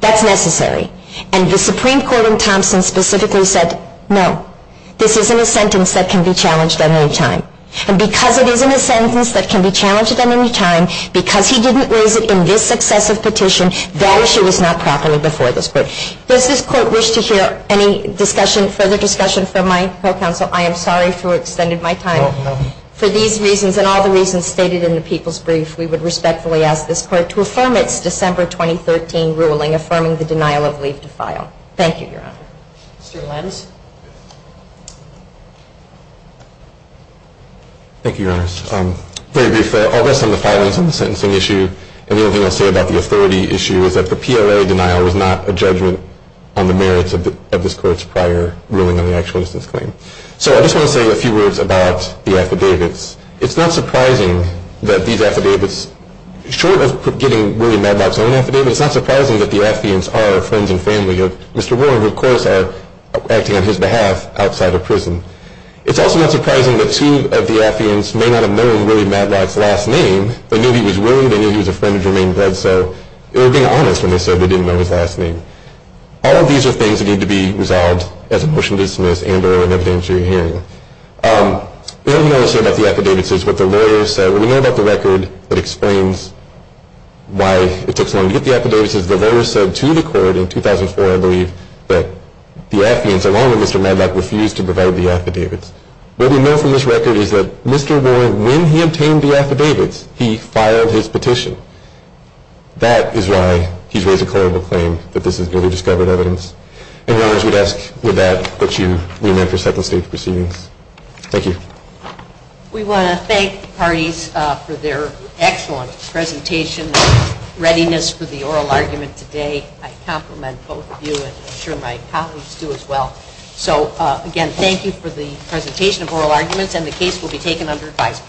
That's necessary. And the Supreme Court in Thompson specifically said, no. This isn't a sentence that can be challenged at any time. And because it is a sentence that can be challenged at any time, because he didn't lose it in this successive petition, that issue is not properly before this court. Does this court wish to hear any discussion, further discussion from my counsel? I am sorry for extending my time. For these reasons and all the reasons stated in the people's brief, we would respectfully ask this court to affirm its December 2013 ruling, affirming the denial of leave to file. Thank you, Your Honor. Mr. Lentz. Thank you, Your Honor. Very briefly, I'll rest on the following on the sentencing issue. The only thing I'll say about the authority issue is that the PLA denial was not a judgment on the merits of this court's prior ruling on an actual instance claim. So I just want to say a few words about the affidavits. It's not surprising that these affidavits, short of getting really mad about the affidavits, it's not surprising that the affidavits are a friend and family of Mr. Warren, who of course acted on his behalf outside of prison. It's also not surprising that two of the affidavits may not have known Willie Matlock's last name. They knew he was Willie. They knew he was a friend of Jermaine's. They were being honest when they said they didn't know his last name. All of these are things that need to be resolved as a motion to dismiss, and are an evidence you're hearing. What we want to say about the affidavits is what the lawyer said. So we know about the record that explains why it took so long to get the affidavits. The lawyer said to the court in 2004, I believe, that the affidavits, along with Mr. Matlock, refused to provide the affidavits. What we know from this record is that Mr. Warren, when he obtained the affidavits, he filed his petition. That is why he's raised a credible claim that this is newly discovered evidence. And I would ask that you reenact this type of state proceedings. Thank you. We want to thank the parties for their excellent presentation and readiness for the oral argument today. I compliment both of you, and I'm sure my colleagues do as well. So, again, thank you for the presentation of oral arguments, and the case will be taken under advice.